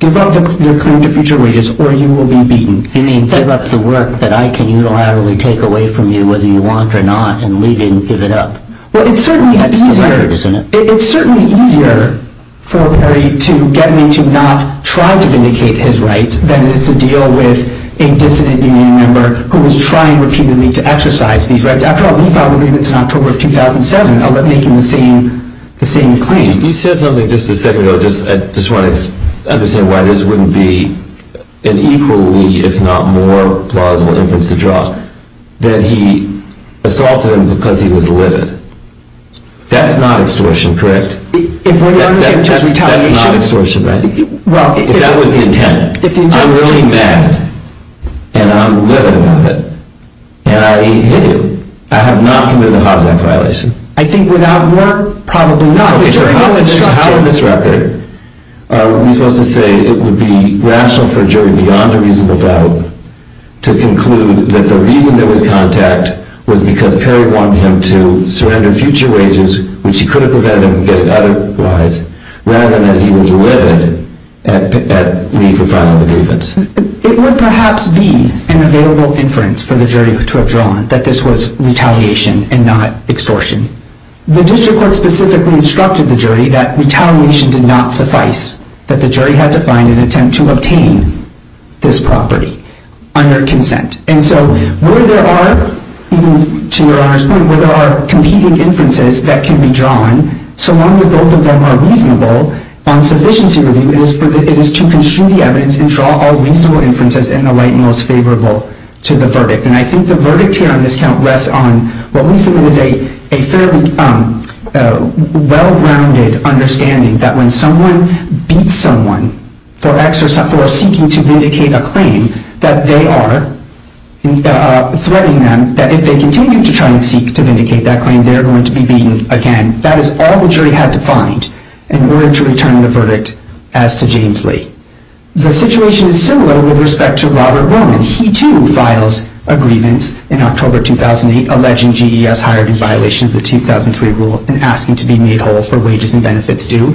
Give up your claim to future rights, or you will be beaten. You mean give up the work that I can unilaterally take away from you whether you want or not, and leave it and give it up? Well, it's certainly easier for Perry to get Lee to not try to vindicate his rights than it is to deal with a dissident union member who is trying repeatedly to exercise these rights. After all, Lee filed a grievance in October of 2007 about making the same claim. He said something just a second ago. I just want to understand why this wouldn't be an equally, if not more, plausible inference to draw. That he assaulted him because he was the witness. That's not extortion, correct? That's not extortion, Matt. That would be intent. I'm really mad, and I'm literally mad. And I admit it. I have not committed a hostile violation. I think without more, probably, knowledge to how to disrupt it, Lee doesn't say that it would be rational for a jury beyond a reasonable doubt to conclude that the reason there was contact was because Perry wanted him to surrender future wages, which he couldn't prevent him from getting otherwise, rather than that he was livid at Lee's asylum grievance. It would perhaps be an available inference for the jury to have drawn that this was retaliation and not extortion. The district court specifically instructed the jury that retaliation did not suffice, that the jury had to find an attempt to obtain this property under consent. And so where there are, to your Honor's point, where there are competing inferences that can be drawn, so long as both of them are reasonable on sufficiency review, it is to construe the evidence and draw all reasonable inferences in the light most favorable to the verdict. And I think the verdict here on this count rests on what we see as a fairly well-rounded understanding that when someone beats someone for seeking to vindicate a claim, that they are threatening them that if they continue to try and seek to vindicate that claim, they're going to be beaten again. That is all the jury had to find in order to return the verdict as to James Lee. The situation is similar with respect to Robert Roman. He, too, files a grievance in October 2008 alleging GDS hired in violation of the 2003 rule and asking to be made whole for wages and benefits due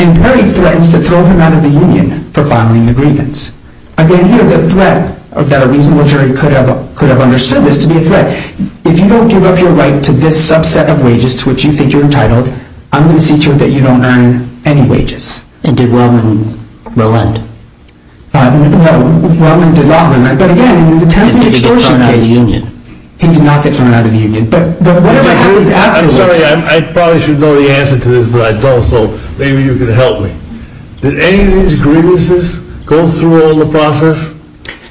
and very threatened to throw him out of the union for filing the grievance. Again, here, the threat that a reasonable jury could have understood this to be a threat, if you don't give up your right to this subset of wages to which you think you're entitled, I'm going to see to it that you don't earn any wages. And did Roman relent? Roman did not. But, again, he did not get thrown out of the union. I'm sorry, I probably should know the answer to this, but I don't, so maybe you can help me. Did any of these grievances go through all the process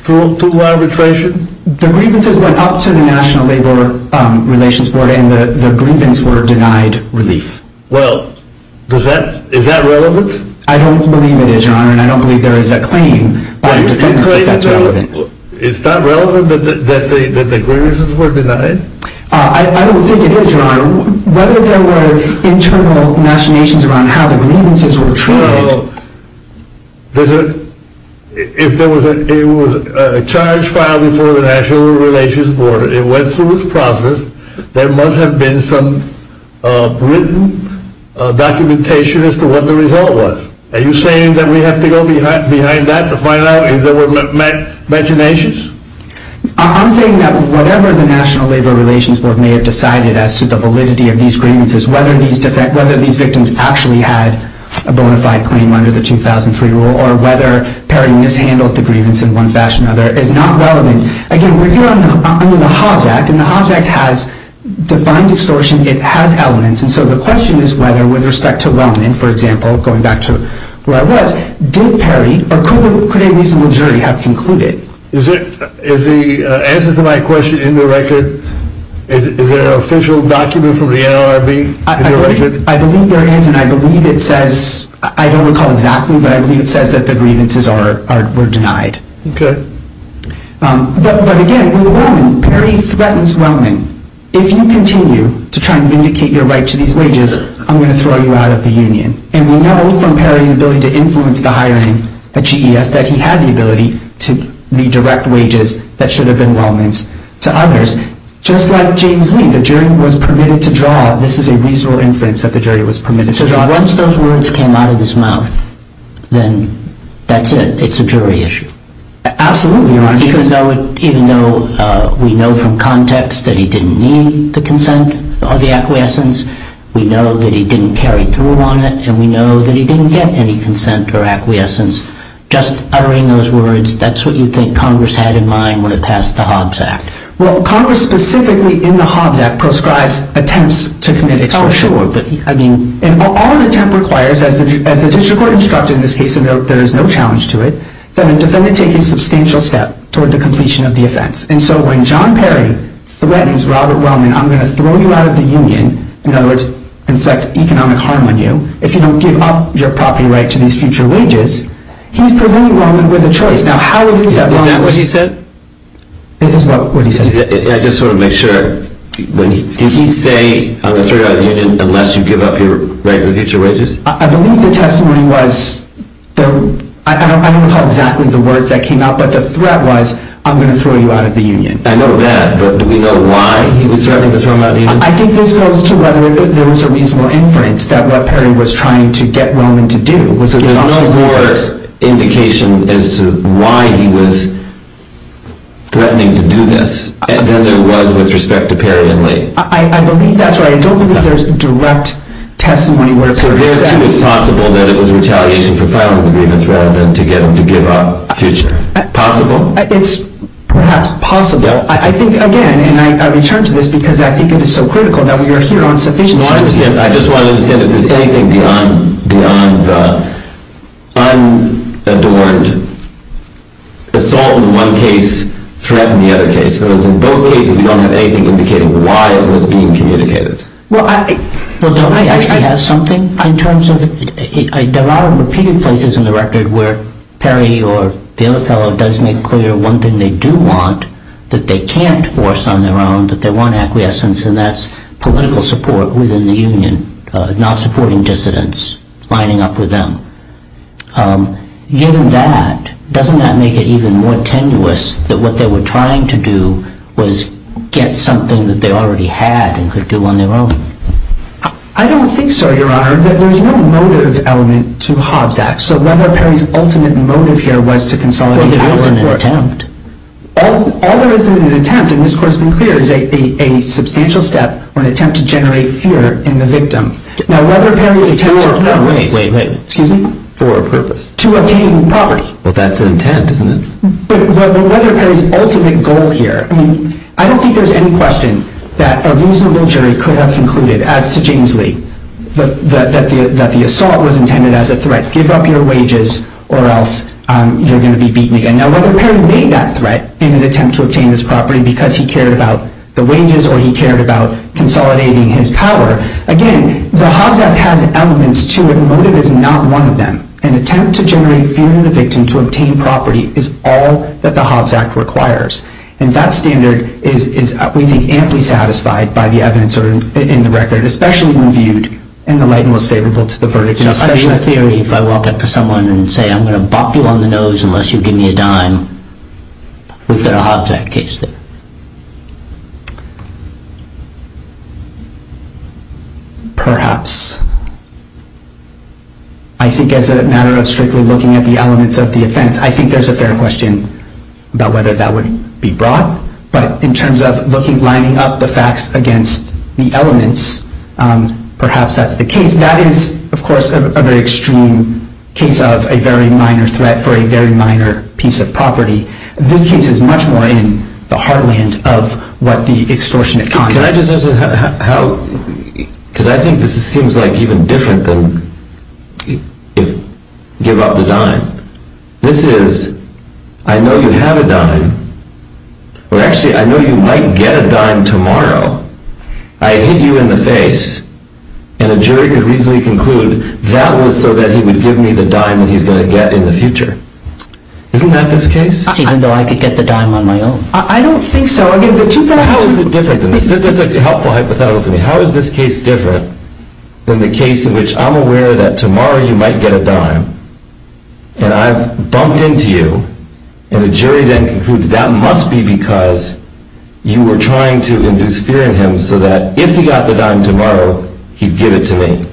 through arbitration? The grievances went up to the National Labor Relations Board, and the grievances were denied relief. Well, is that relevant? I don't believe it, John, and I don't believe there is a claim. It's not relevant that the grievances were denied? I don't think it is, John. Whether there was internal machinations around how the grievances were tried. If there was a charge filed before the National Labor Relations Board and it went through its process, there must have been some written documentation as to what the result was. Are you saying that we have to go behind that to find out if there were machinations? I'm saying that whatever the National Labor Relations Board may have decided as to the validity of these grievances, whether these victims actually had a bona fide claim under the 2003 rule, or whether Perry mishandled the grievance in one fashion or another, is not relevant. Again, we're dealing under the Haas Act, and the Haas Act has defined extortion. It has elements, and so the question is whether, with respect to London, for example, going back to where I was, did Perry, or could a reasonable jury have concluded? Is the answer to my question in the record? Is there an official document from the NLRB? I believe there is, and I don't recall exactly, but I believe it says that the grievances were denied. Okay. But again, we were going, Perry threatens Wellman. If you continue to try and vindicate your right to these wages, I'm going to throw you out of the union. And we know from Perry's ability to influence the hiring of GES that he had the ability to redirect wages that should have been Wellman's to others. Just like James Lee, the jury was permitted to draw. This is a reasonable inference that the jury was permitted to draw. Now, once those words came out of his mouth, then that's it. It's a jury issue. Absolutely. Because we know from context that he didn't need the consent or the acquiescence. We know that he didn't carry through on it, and we know that he didn't get any consent or acquiescence. Just uttering those words, that's what you think Congress had in mind when it passed the Hobbs Act. Well, Congress specifically in the Hobbs Act proscribed attempts to commit extortion. All the attempt requires, as the district court instructed in this case, there is no challenge to it, but I'm just going to take a substantial step toward the completion of the offense. And so when John Perry threatens Robert Wellman, I'm going to throw you out of the union, in other words, inflict economic harm on you, if you don't give up your property right to these future wages, he's preventing Wellman with a choice. Now, how does he do that? Is that what he said? It is what he said. I just want to make sure. Did he say, I'm going to throw you out of the union unless you give up your right for future wages? I believe the testimony was, I don't recall exactly the words that came out, but the threat was, I'm going to throw you out of the union. I know that, but do we know why he was threatening to throw him out of the union? I think this goes to whether there was a reasonable inference that Wellman was trying to get Wellman to do. Is there no more indication as to why he was threatening to do this than there was with respect to Perry and Lee? I believe that's right. I don't think there's direct testimony where it's a threat. Is it possible that it was retaliation for Wellman to be the threat and to get him to give up future? Possible? It's, yes, possible. I think, again, and I return to this because I think it is so critical that we are here on sufficient evidence. I just want to understand if there's anything beyond the sign that the word assault in one case threatened the other case. Because in both cases you don't have anything to indicate why it was being communicated. Well, don't I actually have something? In terms of, there are repeated phases in the record where Perry or the other fellow does make clear one thing they do want that they can't force on their own, but they want acquiescence, and that's political support within the union, not supporting dissidents lining up with them. Given that, doesn't that make it even more tenuous that what they were trying to do was get something that they already had and could do on their own? I don't think so, Your Honor, but there's no motive element to Hobbs Act. So one of Perry's ultimate motives here was to consolidate power. That wasn't an attempt. All that isn't an attempt, and this court's been clear, is a substantial step or an attempt to generate fear in the victim. Now, whether Perry attempts or not, wait, wait, wait, excuse me? For a purpose. To obtain power. But that's an attempt, isn't it? But whether Perry's ultimate goal here, I mean, I don't think there's any question that a reasonable jury could have concluded, as to James Lee, that the assault was intended as a threat. Give up your wages or else you're going to be beaten again. Now, whether Perry made that threat in an attempt to obtain his property because he cared about the wages or he cared about consolidating his power, again, the Hobbs Act had an element to it. The motive is not one of them. An attempt to generate fear in the victim to obtain property is all that the Hobbs Act requires. And that standard is, we think, amply satisfied by the evidence in the record, especially when viewed in the light most favorable to the verdict. Especially if I walk up to someone and say, I'm going to bop you on the nose unless you give me a dime. Would the Hobbs Act case that? Perhaps. I think as a matter of strictly looking at the elements of the offense, I think there's a fair question about whether that would be brought. But in terms of lining up the facts against the elements, perhaps that's the case. That is, of course, a very extreme case of a very minor threat for a very minor piece of property. This case is much more in the heartland of what the extortionate conduct is. Because I think this seems like even different than give up a dime. This is, I know you have a dime. Or actually, I know you might get a dime tomorrow. I hit you in the face. And a jury could reasonably conclude that was so that he would give me the dime that he's going to get in the future. Isn't that this case? I don't know. I could get the dime on my own. I don't think so. How is it different? This is a helpful hypothetical for me. How is this case different than the case in which I'm aware that tomorrow you might get a dime, and I've bumped into you, and a jury then concludes that must be because you were trying to induce fear in him so that if he got the dime tomorrow, he'd give it to me?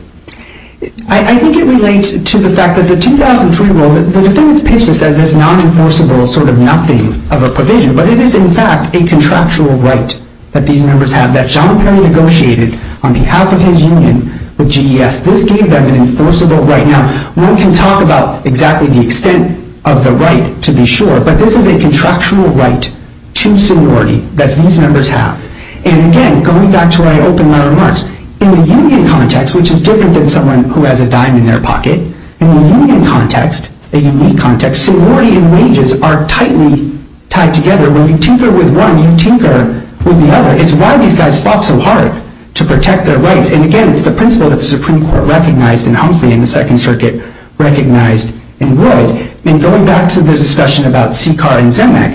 I think it relates to the fact that the 2003 rule, the defendant's patient said there's an unenforceable sort of nothing of a provision. But it is, in fact, a contractual right that these members have, that Jean-Pierre negotiated on behalf of his union with GES. This gave them an enforceable right. Now, one can talk about exactly the extent of the right to be sure, but this is a contractual right to sorority that these members have. And again, going back to where I opened my remarks, in the union context, which is different than someone who has a dime in their pocket, in the union context, a union context, sorority and wages are tightly tied together. When you tinker with one, you tinker with the other. It's why these guys fought so hard to protect their rights. And again, it's the principle that the Supreme Court recognized and hopefully in the Second Circuit recognized and ruled. And going back to the discussion about Sicard and Zemeck,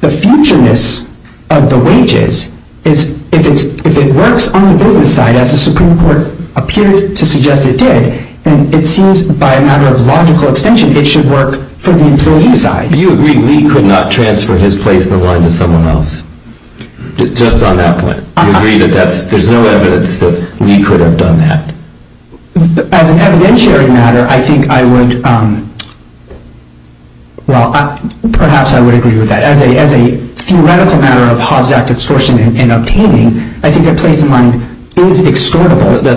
the futureness of the wages, if it works on the business side, as the Supreme Court appeared to suggest it did, then it seems by a matter of logical extension, it should work from the utility side. Do you agree Lee could not transfer his placement line to someone else? Just on that point. Do you agree that there's no evidence that Lee could have done that? On an evidentiary matter, I think I would, well, perhaps I would agree with that. As a theoretical matter of hausdacht extortion and obtaining, I think the place in mind is extortable. Your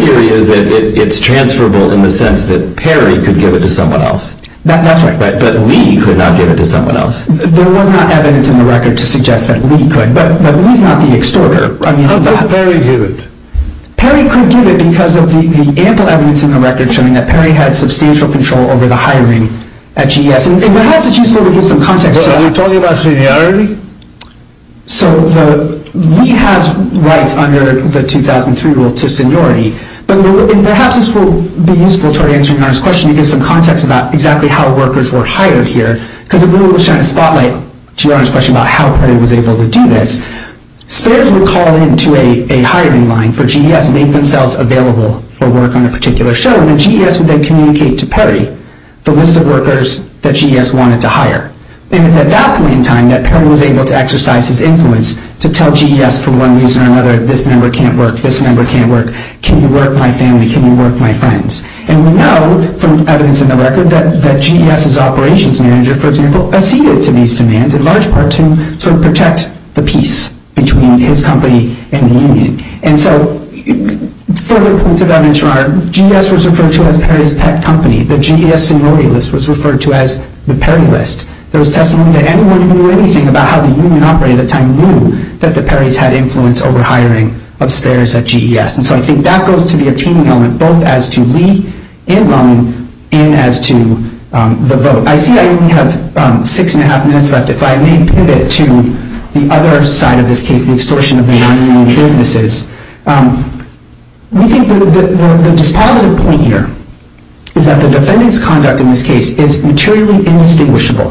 theory is that it's transferable in the sense that Perry could give it to someone else. That's right. But Lee could not give it to someone else. There were no evidence in the record to suggest that Lee could, but Lee cannot be extorted. But Perry could. Perry could give it because of the ample evidence in the record showing that Perry had substantial control over the hiring at GS. And perhaps it's useful to give some context to that. Are you talking about Signori? So Lee has rights under the 2003 rule to Signori, but perhaps this will be useful for answering Arne's question to give some context about exactly how workers were hired here, because it really would shine a spotlight to Arne's question about how Perry was able to do this. Spares were called into a hiring line for GS to make themselves available for work on a particular show, and when GS would then communicate to Perry the list of workers that GS wanted to hire. And in the documenting time that Perry was able to exercise his influence to tell GS from one user to another, this member can't work, this member can't work, can you work my family, can you work my friends? And we know from evidence in the record that GS's operations manager, for example, acceded to these demands in large part to sort of protect the peace between his company and the union. And so further points of evidence are GS was referred to as Perry's pet company, but GS Signori was referred to as the Perry List. There was testimony that anyone who knew anything about how the union operated at the time knew that the Perry's had influence over hiring of spares at GS. And so I think that goes to the attaining element, both as to Lee and Rone, and as to the vote. I see I only have six and a half minutes left, but I may put it to the other side of this case, the extortion of the union and hearing this is. We think that the dispositive point here is that the defendant's conduct in this case is materially indistinguishable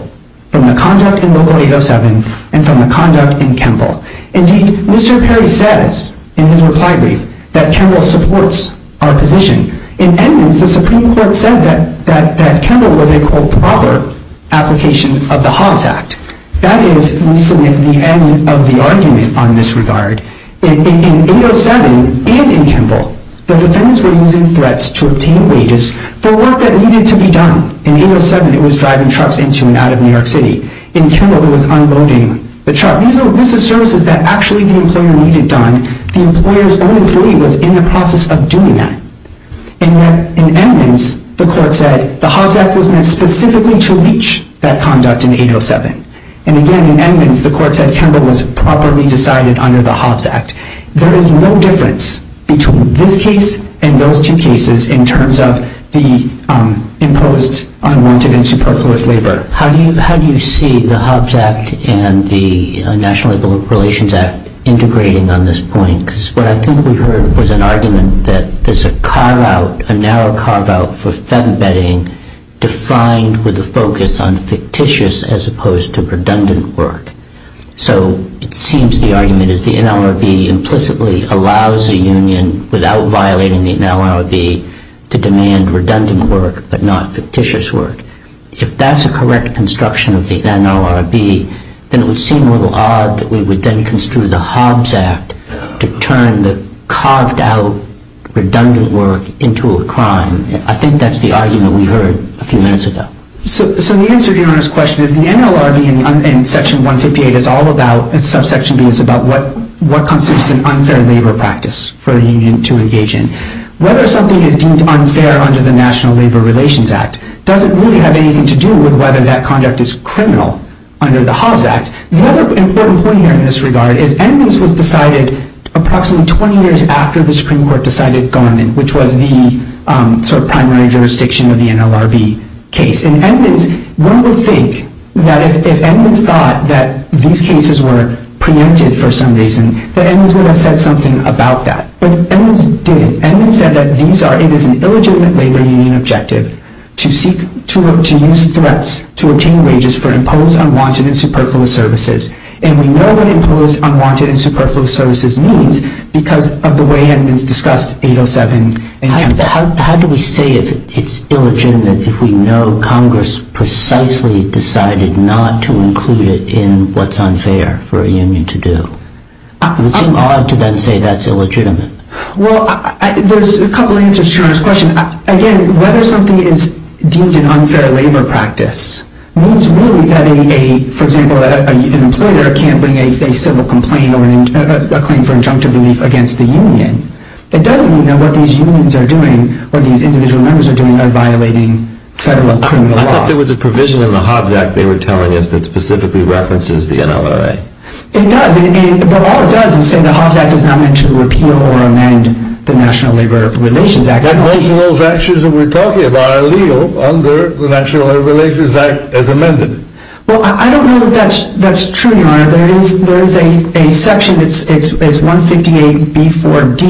from the conduct in Local 807 and from the conduct in Kimball. Indeed, Mr. Perry says in the reply brief that Kimball supports our position. In any case, the Supreme Court said that Kimball was a, quote, rather application of the Hawes Act. That is, we submit the end of the argument on this regard. In 807 and in Kimball, the defendants were using threats to obtain wages for work that needed to be done. In 807, it was driving trucks into and out of New York City. In Kimball, it was unloading the truck. These are services that actually need to be done. The employer's own employee was in the process of doing that. And then in Edmonds, the court said the Hawes Act was made specifically to reach that conduct in 807. And again, in Edmonds, the court said Kimball was properly decided under the Hawes Act. There is no difference between this case and those two cases in terms of the imposed unwanted and superfluous labor. How do you see the Hawes Act and the National Labor Relations Act integrating on this point? Because what I think we heard was an argument that there's a carve-out, a narrow carve-out for fed embedding defined with a focus on fictitious as opposed to redundant work. So it seems the argument is the NLRB implicitly allows a union, without violating the NLRB, to demand redundant work but not fictitious work. If that's a correct construction of the NLRB, then it would seem a little odd that we would then construe the Hawes Act to turn the carved-out redundant work into a crime. I think that's the argument we heard a few minutes ago. So the answer to your first question is the NLRB and Section 158 is all about, and Subsection D is about what constitutes an unfair labor practice for a union to engage in. Whether something is deemed unfair under the National Labor Relations Act doesn't really have anything to do with whether that conduct is criminal under the Hawes Act. Another important point here in this regard is Emmons was decided approximately 20 years after the Supreme Court decided Thornhill, which was the primary jurisdiction of the NLRB case. One would think that if Emmons thought that these cases were preempted for some reason, that Emmons would have said something about that. But Emmons didn't. Emmons said that it is an illegitimate labor union objective to use threats to obtain wages for imposed, unwanted, and superfluous services. And we know what imposed, unwanted, and superfluous services mean because of the way it has been discussed 807. How do we say it's illegitimate if we know Congress precisely decided not to include it in what's unfair for a union to do? It would seem odd to then say that's illegitimate. Well, there's a couple of answers to this question. Again, whether something is deemed an unfair labor practice means really that a, for example, an employer can't bring a civil complaint or claim for injunctive relief against the union. It doesn't mean that what these unions are doing, what these individual members are doing, are violating federal criminal law. I thought there was a provision in the Hawes Act they were telling us that specifically references the NLRB. It does, but all it does is say the Hawes Act does not mention the repeal or amend the National Labor Relations Act. That means those actions that we're talking about are legal under the National Labor Relations Act as amended. Well, I don't know if that's true, Narayan, but there is a section, it's 158b4d,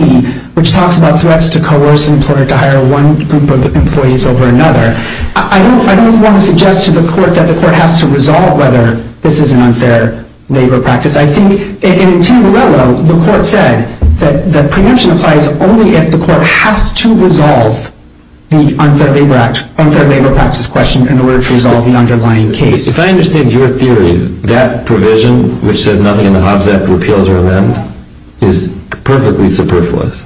which talks about threats to coercion in order to hire one group of employees over another. I don't want to suggest to the court that the court has to resolve whether this is an unfair labor practice. I think, and to your level, the court said that prevention applies only if the court has to resolve the unfair labor practice question in order to resolve the underlying case. If I understand your theory, that provision, which says nothing in the Hawes Act repeals or amends, is perfectly superfluous.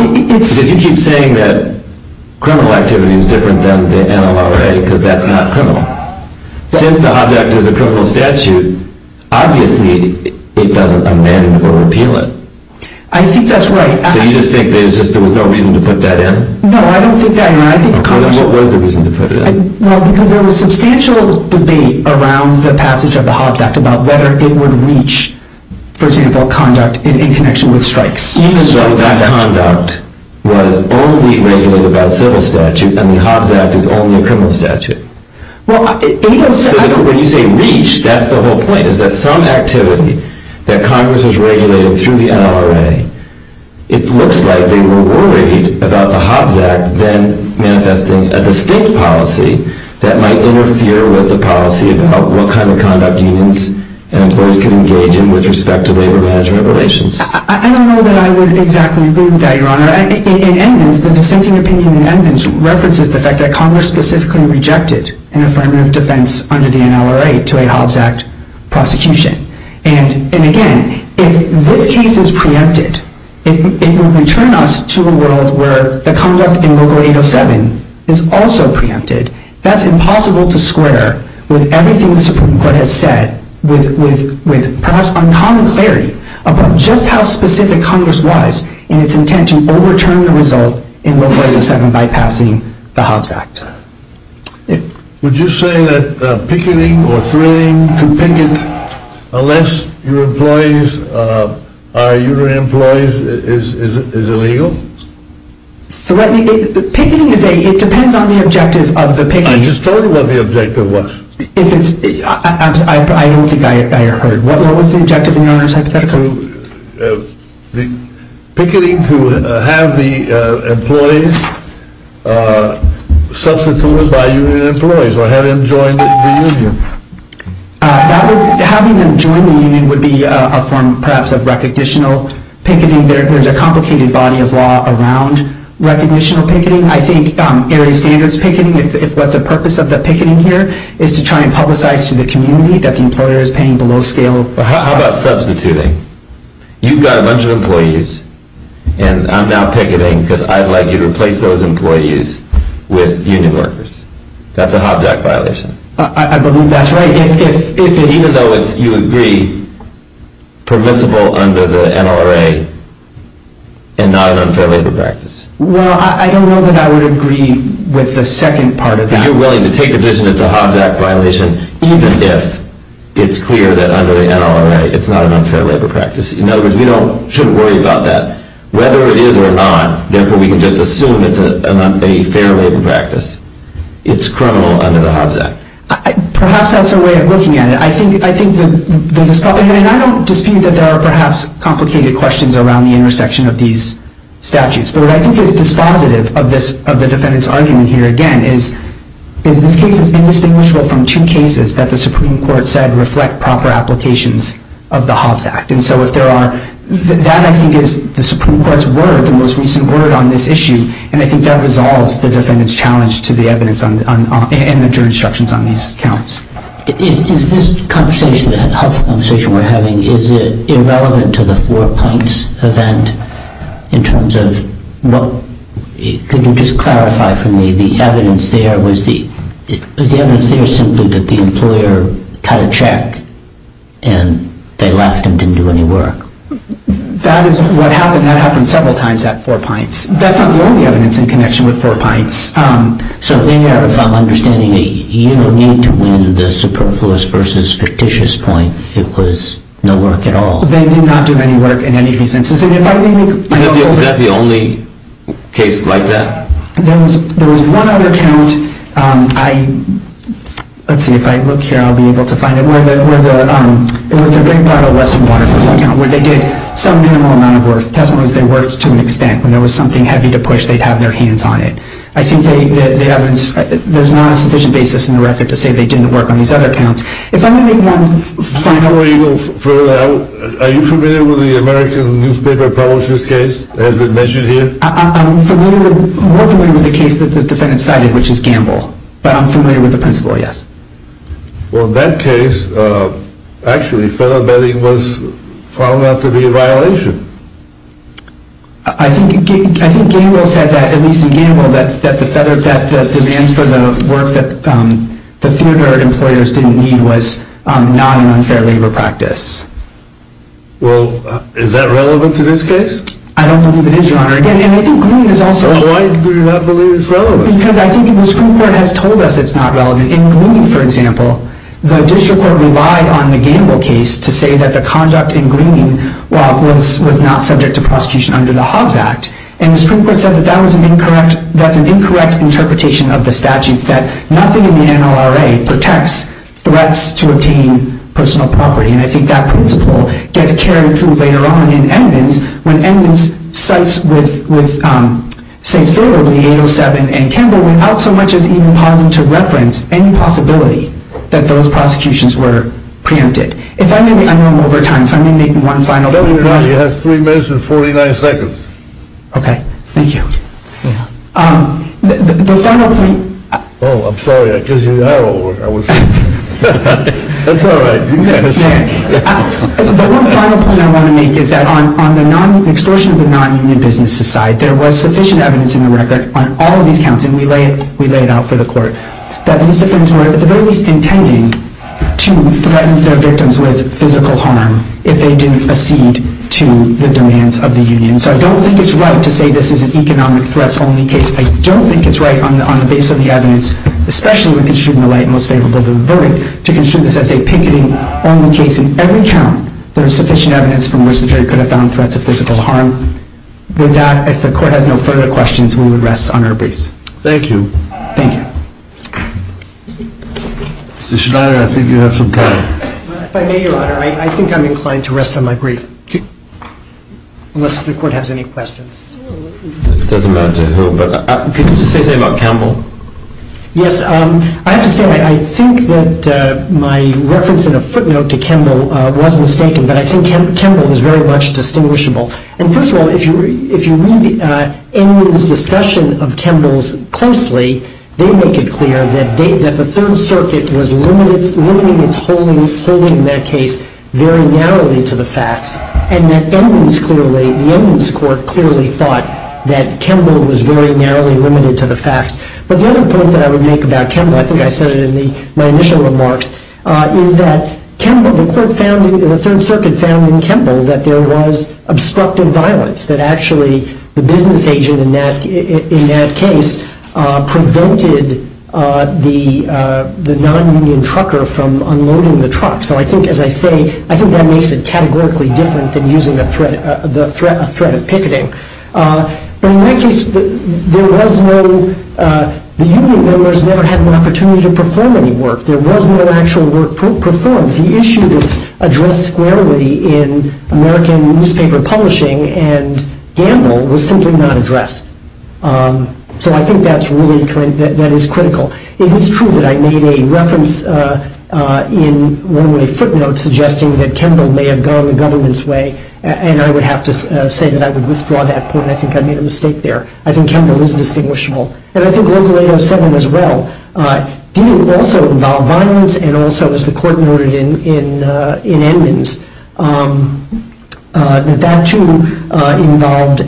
You keep saying that criminal activity is different than the NLRB because that's not criminal. Since the Hawes Act is a criminal statute, obviously it doesn't amend or repeal it. I think that's right. So you just think there was no reason to put that in? No, I don't think that, Narayan. Then what was the reason to put it in? Well, because there was substantial debate around the passage of the Hawes Act about whether it would reach, for example, conduct in connection with strikes. You just wrote that conduct was only regulated by civil statute and the Hawes Act is only a criminal statute. When you say reach, that's the whole point, is that some activity that Congress was regulating through the NLRB, it looks like they were worried about the Hawes Act then manifesting a distinct policy that might interfere with the policy about what kind of conduct unions and employees can engage in with respect to labor-management relations. I don't know that I would exactly agree with that, Your Honor. In eminence, the dissenting opinion in eminence references the fact that Congress specifically rejected an affirmative defense under the NLRA to a Hawes Act prosecution. And again, if this case is preempted, it will return us to a world where the conduct in Article 807 is also preempted. That's impossible to square with everything the Supreme Court has said with perhaps uncommon clarity about just how specific Congress was in its intent to overturn the result in Article 807 by passing the Hawes Act. Would you say that picketing or fleeing to picket, unless your employees are union employees, is illegal? Threatening, picketing depends on the objective of the picketing. I just told you what the objective was. I don't think I heard. What was the objective, Your Honor, specifically? Picketing to have the employees substituted by union employees or have them join the union. Having them join the union would be perhaps a form of recognition picketing. There's a complicated body of law around recognition picketing. I think there is standards picketing, but the purpose of the picketing here is to try and publicize to the community that the employer is paying below scale. How about substituting? You've got a bunch of employees, and I'm now picketing because I'd like you to replace those employees with union workers. That's a Hoback violation. I believe that's right. Even though you agree it's permissible under the NRA and not an unfair labor practice. Well, I don't know that I would agree with the second part of that. I'm willing to take a vision of the Hoback violation, even if it's clear that under the NRA it's not an unfair labor practice. In other words, we shouldn't worry about that. Whether it is or not, therefore we can just assume it's an unfair labor practice. It's criminal under the Hoback. Perhaps that's a way of looking at it. I don't dispute that there are perhaps complicated questions around the intersection of these statutes, but what I think is dispositive of the defendant's argument here, again, is in these cases, they distinguished between two cases that the Supreme Court said reflect proper applications of the Hobbs Act. That, I think, is the Supreme Court's word, the most recent word on this issue, and I think that resolves the defendant's challenge to the evidence and the juror's instructions on these counts. Is this conversation, the Hobbs conversation we're having, is it irrelevant to the four points event in terms of, well, could you just clarify for me the evidence there? Was the evidence there simply that the employer cut a check and they left and didn't do any work? That is what happened. That happened several times at four points. That's not the only evidence in connection with four points. So, in that, if I'm understanding it, you were meaning to mean the superfluous versus fictitious point. It was no work at all. They did not do any work in any of these instances. Is that the only case like that? There was one other count. Let's see. If I look here, I'll be able to find it. It was the Great Battle of Western California, where they did some minimal amount of work. It doesn't mean they worked to an extent. When there was something heavy to push, they had their hands on it. I think there's not a sufficient basis in the record to say they didn't work on these other counts. If I may make one final point. Are you familiar with the American newspaper publisher's case that has been mentioned here? I'm more familiar with the case that the defendant cited, which is Gamble. But I'm familiar with the principal, yes. Well, in that case, actually, federal vetting was found out to be a violation. The federal vet that demands for the work that the theater employers didn't need was not an unfair labor practice. Is that relevant to this case? I don't believe it is, Your Honor. Why do you not believe it's relevant? Because I think the Supreme Court has told us it's not relevant. In Green, for example, the judicial court relied on the Gamble case to say that the conduct in Green was not subject to prosecution under the Hobbs Act. And the Supreme Court said that that was an incorrect interpretation of the statute, that nothing in the NLRA protects threats to obtaining personal property. And I think that will get carried through later on in Edmonds when Edmonds cites with St. Philip in the 807 and Gamble without so much as even having to reference any possibility that those prosecutions were preempted. If I may, I'm running over time, so let me make one final point. I'm telling you now, he has three minutes and 49 seconds. Okay, thank you. The final point... Oh, I'm sorry, I didn't know. That's all right. The one final point I want to make is that on the exclusion of the non-union business society, there was sufficient evidence in the record on all of these counts, and we lay it out for the court, that these defendants were at the very least intending to threaten their victims with physical harm if they didn't accede to the demands of the union. So I don't think it's right to say this is an economic threat-only case. I don't think it's right on the basis of the evidence, especially with the shooting of light most favorable to the verdict, to consider this as a picketing-only case in every count where there's sufficient evidence from which the jury could have found threats of physical harm. With that, if the court has no further questions, we will rest on our brace. Thank you. Thank you. Mr. Schneider, I think you have some time. If I may, Your Honor, I think I'm inclined to rest on my brace, unless the court has any questions. It doesn't matter to whom, but could you just say something about Kemble? Yes. I have to say I think that my reference in a footnote to Kemble was mistaken, but I think Kemble is very much distinguishable. And first of all, if you read any of the discussion of Kemble's closely, they make it clear that the Third Circuit was limiting its holding in that case very narrowly to the facts, and that the evidence court clearly thought that Kemble was very narrowly limited to the facts. But the other point that I would make about Kemble, I think I said it in my initial remarks, is that the Third Circuit found in Kemble that there was obstructing violence, that actually the business agent in that case prevented the non-union trucker from unloading the truck. So I think, as I say, I think that makes it categorically different than using a threat of picketing. The union members never had an opportunity to perform any work. There was no actual work performed. The issue was addressed squarely in American newspaper publishing, and Kemble was simply not addressed. So I think that is critical. It is true that I made a reference in one of my footnotes suggesting that Kemble may have gone the government's way, and I would have to say that I would withdraw that point. I think I made a mistake there. I think Kemble is distinguishable. And I think Local 807 as well. He also involved violence and also, as the court noted in Edmonds, that that too involved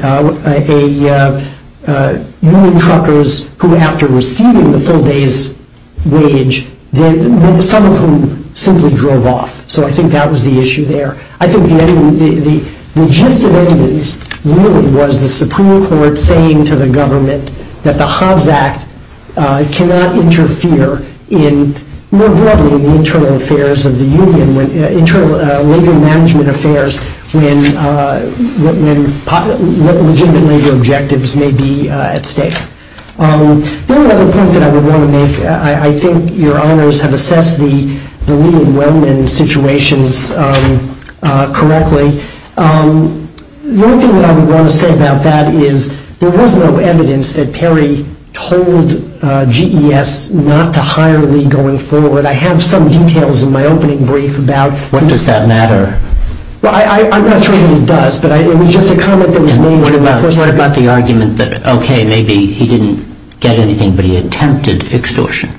union truckers who, after receiving the full day's wage, then some of whom simply drove off. So I think that was the issue there. I think the gist of Edmonds really was the Supreme Court saying to the government that the Hobbs Act cannot interfere in, more broadly, the internal affairs of the union, internal labor management affairs, when labor objectives may be at stake. One other point that I would want to make, I think your honors have assessed the Lee and Wellman situations correctly. The only thing that I would want to say about that is there was no evidence that Terry told GES not to hire Lee going forward. I have some details in my opening brief about that. What does that matter? Well, I'm not sure that it does, but it was just a comment that was made when I first heard about the argument that, okay, maybe he didn't get anything, but he attempted extortion.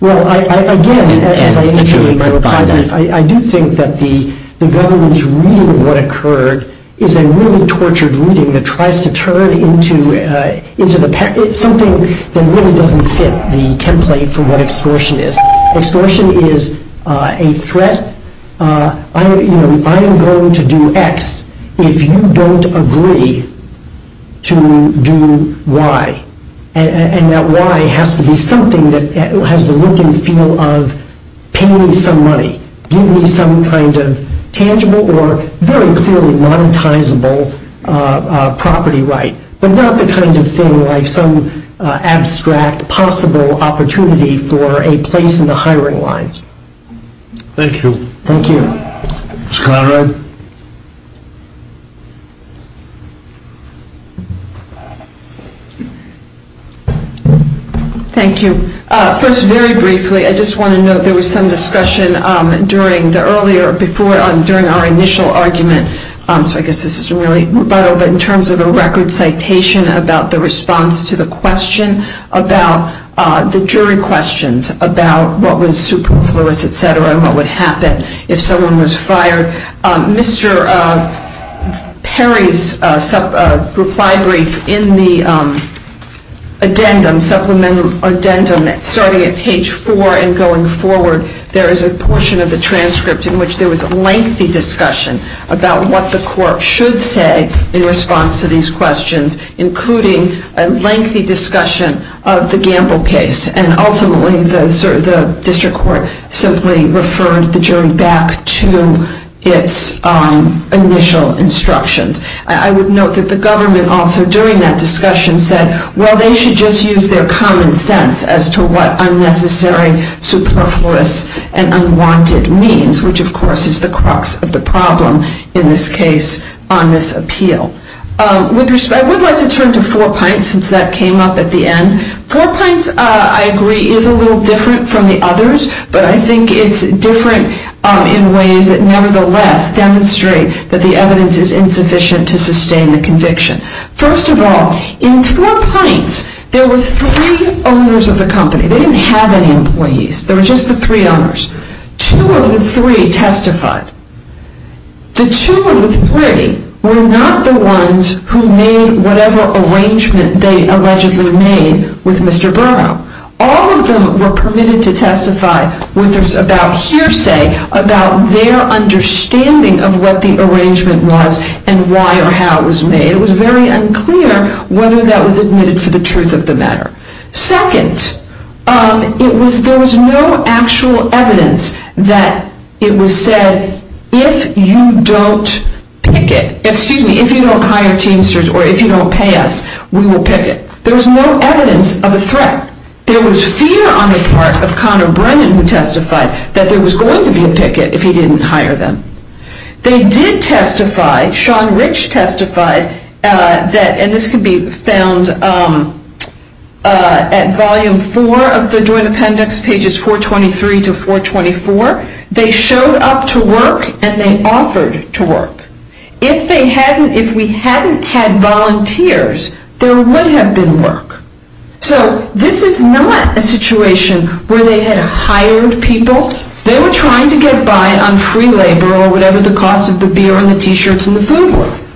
Well, again, as I indicated in my reply, I do think that the government's reading of what occurred is a really tortured reading that tries to turn into something that really doesn't fit the template for what extortion is. Extortion is a threat. I am going to do X if you don't agree to do Y. And that Y has to be something that has the working feel of paying me some money, giving me some kind of tangible or very clearly monetizable property right, but not the kind of feeling like some abstract possible opportunity for a place in the hiring lines. Thank you. Thank you. Mr. Conrad? Thank you. First, very briefly, I just want to note there was some discussion during our initial argument, so I guess this isn't really vital, but in terms of a record citation about the response to the question about the jury questions about what was superfluous, et cetera, and what would happen if someone was fired. Mr. Perry's reply brief in the addendum, supplement addendum, starting at page 4 and going forward, there is a portion of the transcript in which there was lengthy discussion about what the court should say in response to these questions, including a lengthy discussion of the Gamble case, and ultimately the district court simply referred the jury back to its initial instructions. I would note that the government also during that discussion said, well, they should just use their common sense as to what unnecessary, superfluous, and unwanted means, which, of course, is the crux of the problem in this case on this appeal. I would like to turn to Four Pines since that came up at the end. Four Pines, I agree, is a little different from the others, but I think it's different in ways that, nevertheless, demonstrate that the evidence is insufficient to sustain the conviction. First of all, in Four Pines, there were three owners of the company. They didn't have any employees. There were just the three owners. Two of the three testified. The two of the three were not the ones who made whatever arrangement they allegedly made with Mr. Brown. All of them were permitted to testify with about hearsay about their understanding of what the arrangement was and why or how it was made. It was very unclear whether that was admitted to the truth of the matter. Second, there was no actual evidence that it was said, if you don't hire Teamsters or if you don't pay us, we will pick it. There was no evidence of a threat. There was fear on the part of Conor Brennan, who testified, that there was going to be a ticket if he didn't hire them. They did testify, Sean Rich testified, and this can be found at Volume 4 of the Joint Appendix, pages 423 to 424, they showed up to work and they offered to work. If we hadn't had volunteers, there would have been work. So this is not a situation where they had hired people. They were trying to get by on free labor or whatever the cost of the beer and the T-shirts and the food was.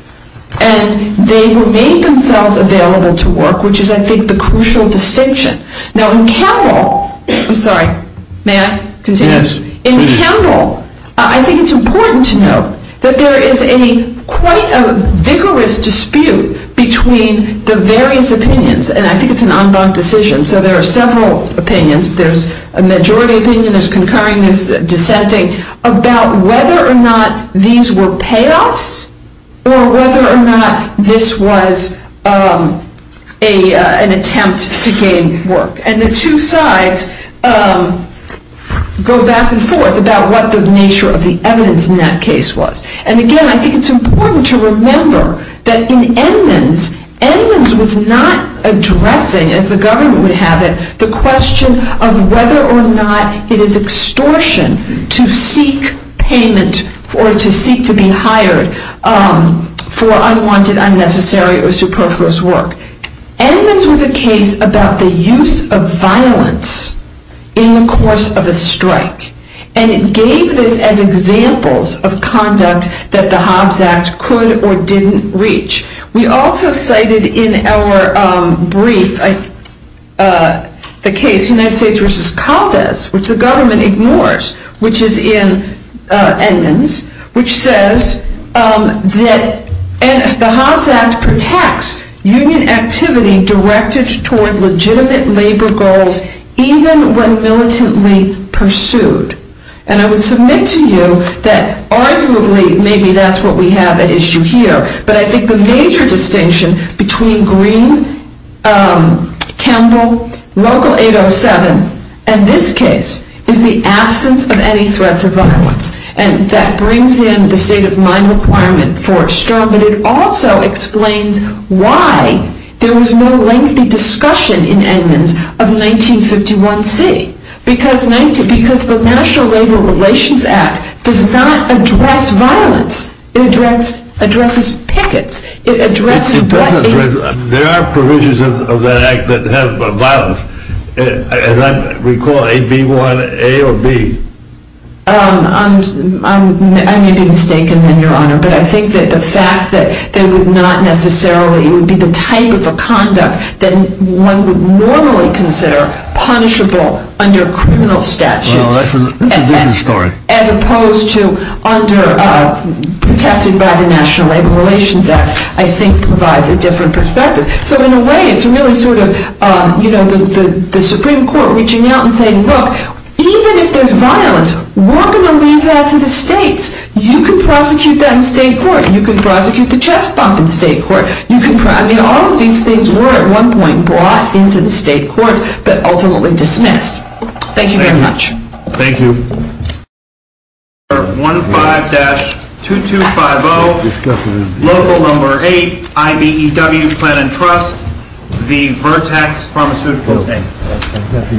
And they made themselves available to work, which is, I think, the crucial distinction. Now, in general, I think it's important to note that there is quite a vigorous dispute between the various opinions, and I think it's an en banc decision, so there are several opinions. There's a majority opinion, there's concurring, there's dissenting, about whether or not these were payoffs or whether or not this was an attempt to gain work. And the two sides go back and forth about what the nature of the evidence in that case was. And again, I think it's important to remember that in Edmonds, Edmonds was not addressing, as the government would have it, the question of whether or not it is extortion to seek payment or to seek to be hired for unwanted, unnecessary, or superfluous work. Edmonds was a case about the use of violence in the course of a strike, and it gave this as examples of conduct that the Hobbes Act could or didn't reach. We also cited in our brief the case United States v. Congress, which the government ignores, which is in Edmonds, which says that the Hobbes Act protects union activity directed toward legitimate labor goals, even when militantly pursued. And I would submit to you that, arguably, maybe that's what we have at issue here, but I think the major distinction between Green, Campbell, Local 807, and this case, is the absence of any threat to violence. And that brings in the state of mind requirement for Stone, but it also explains why there was no lengthy discussion in Edmonds of 1951c. Because the National Labor Relations Act does not address violence. It addresses packets. There are provisions of that act that have violence. And we call it AB1A or B. I may be mistaken, Your Honor, but I think that the fact that there would not necessarily be the type of conduct that one would normally consider punishable under criminal statute. That's a different story. As opposed to under, protected by the National Labor Relations Act, I think provides a different perspective. So in a way, it's really sort of the Supreme Court reaching out and saying, look, even if there's violence, we're going to leave that to the states. You can prosecute that in state court. You can prosecute the chest bump in state court. All of these things were, at one point, brought into the state court, but ultimately dismissed. Thank you very much. Thank you. Order 15-2250, level number 8, IBEW's Plan and Trust, the Vertex Pharmaceutical State. Thank you, Your Honor.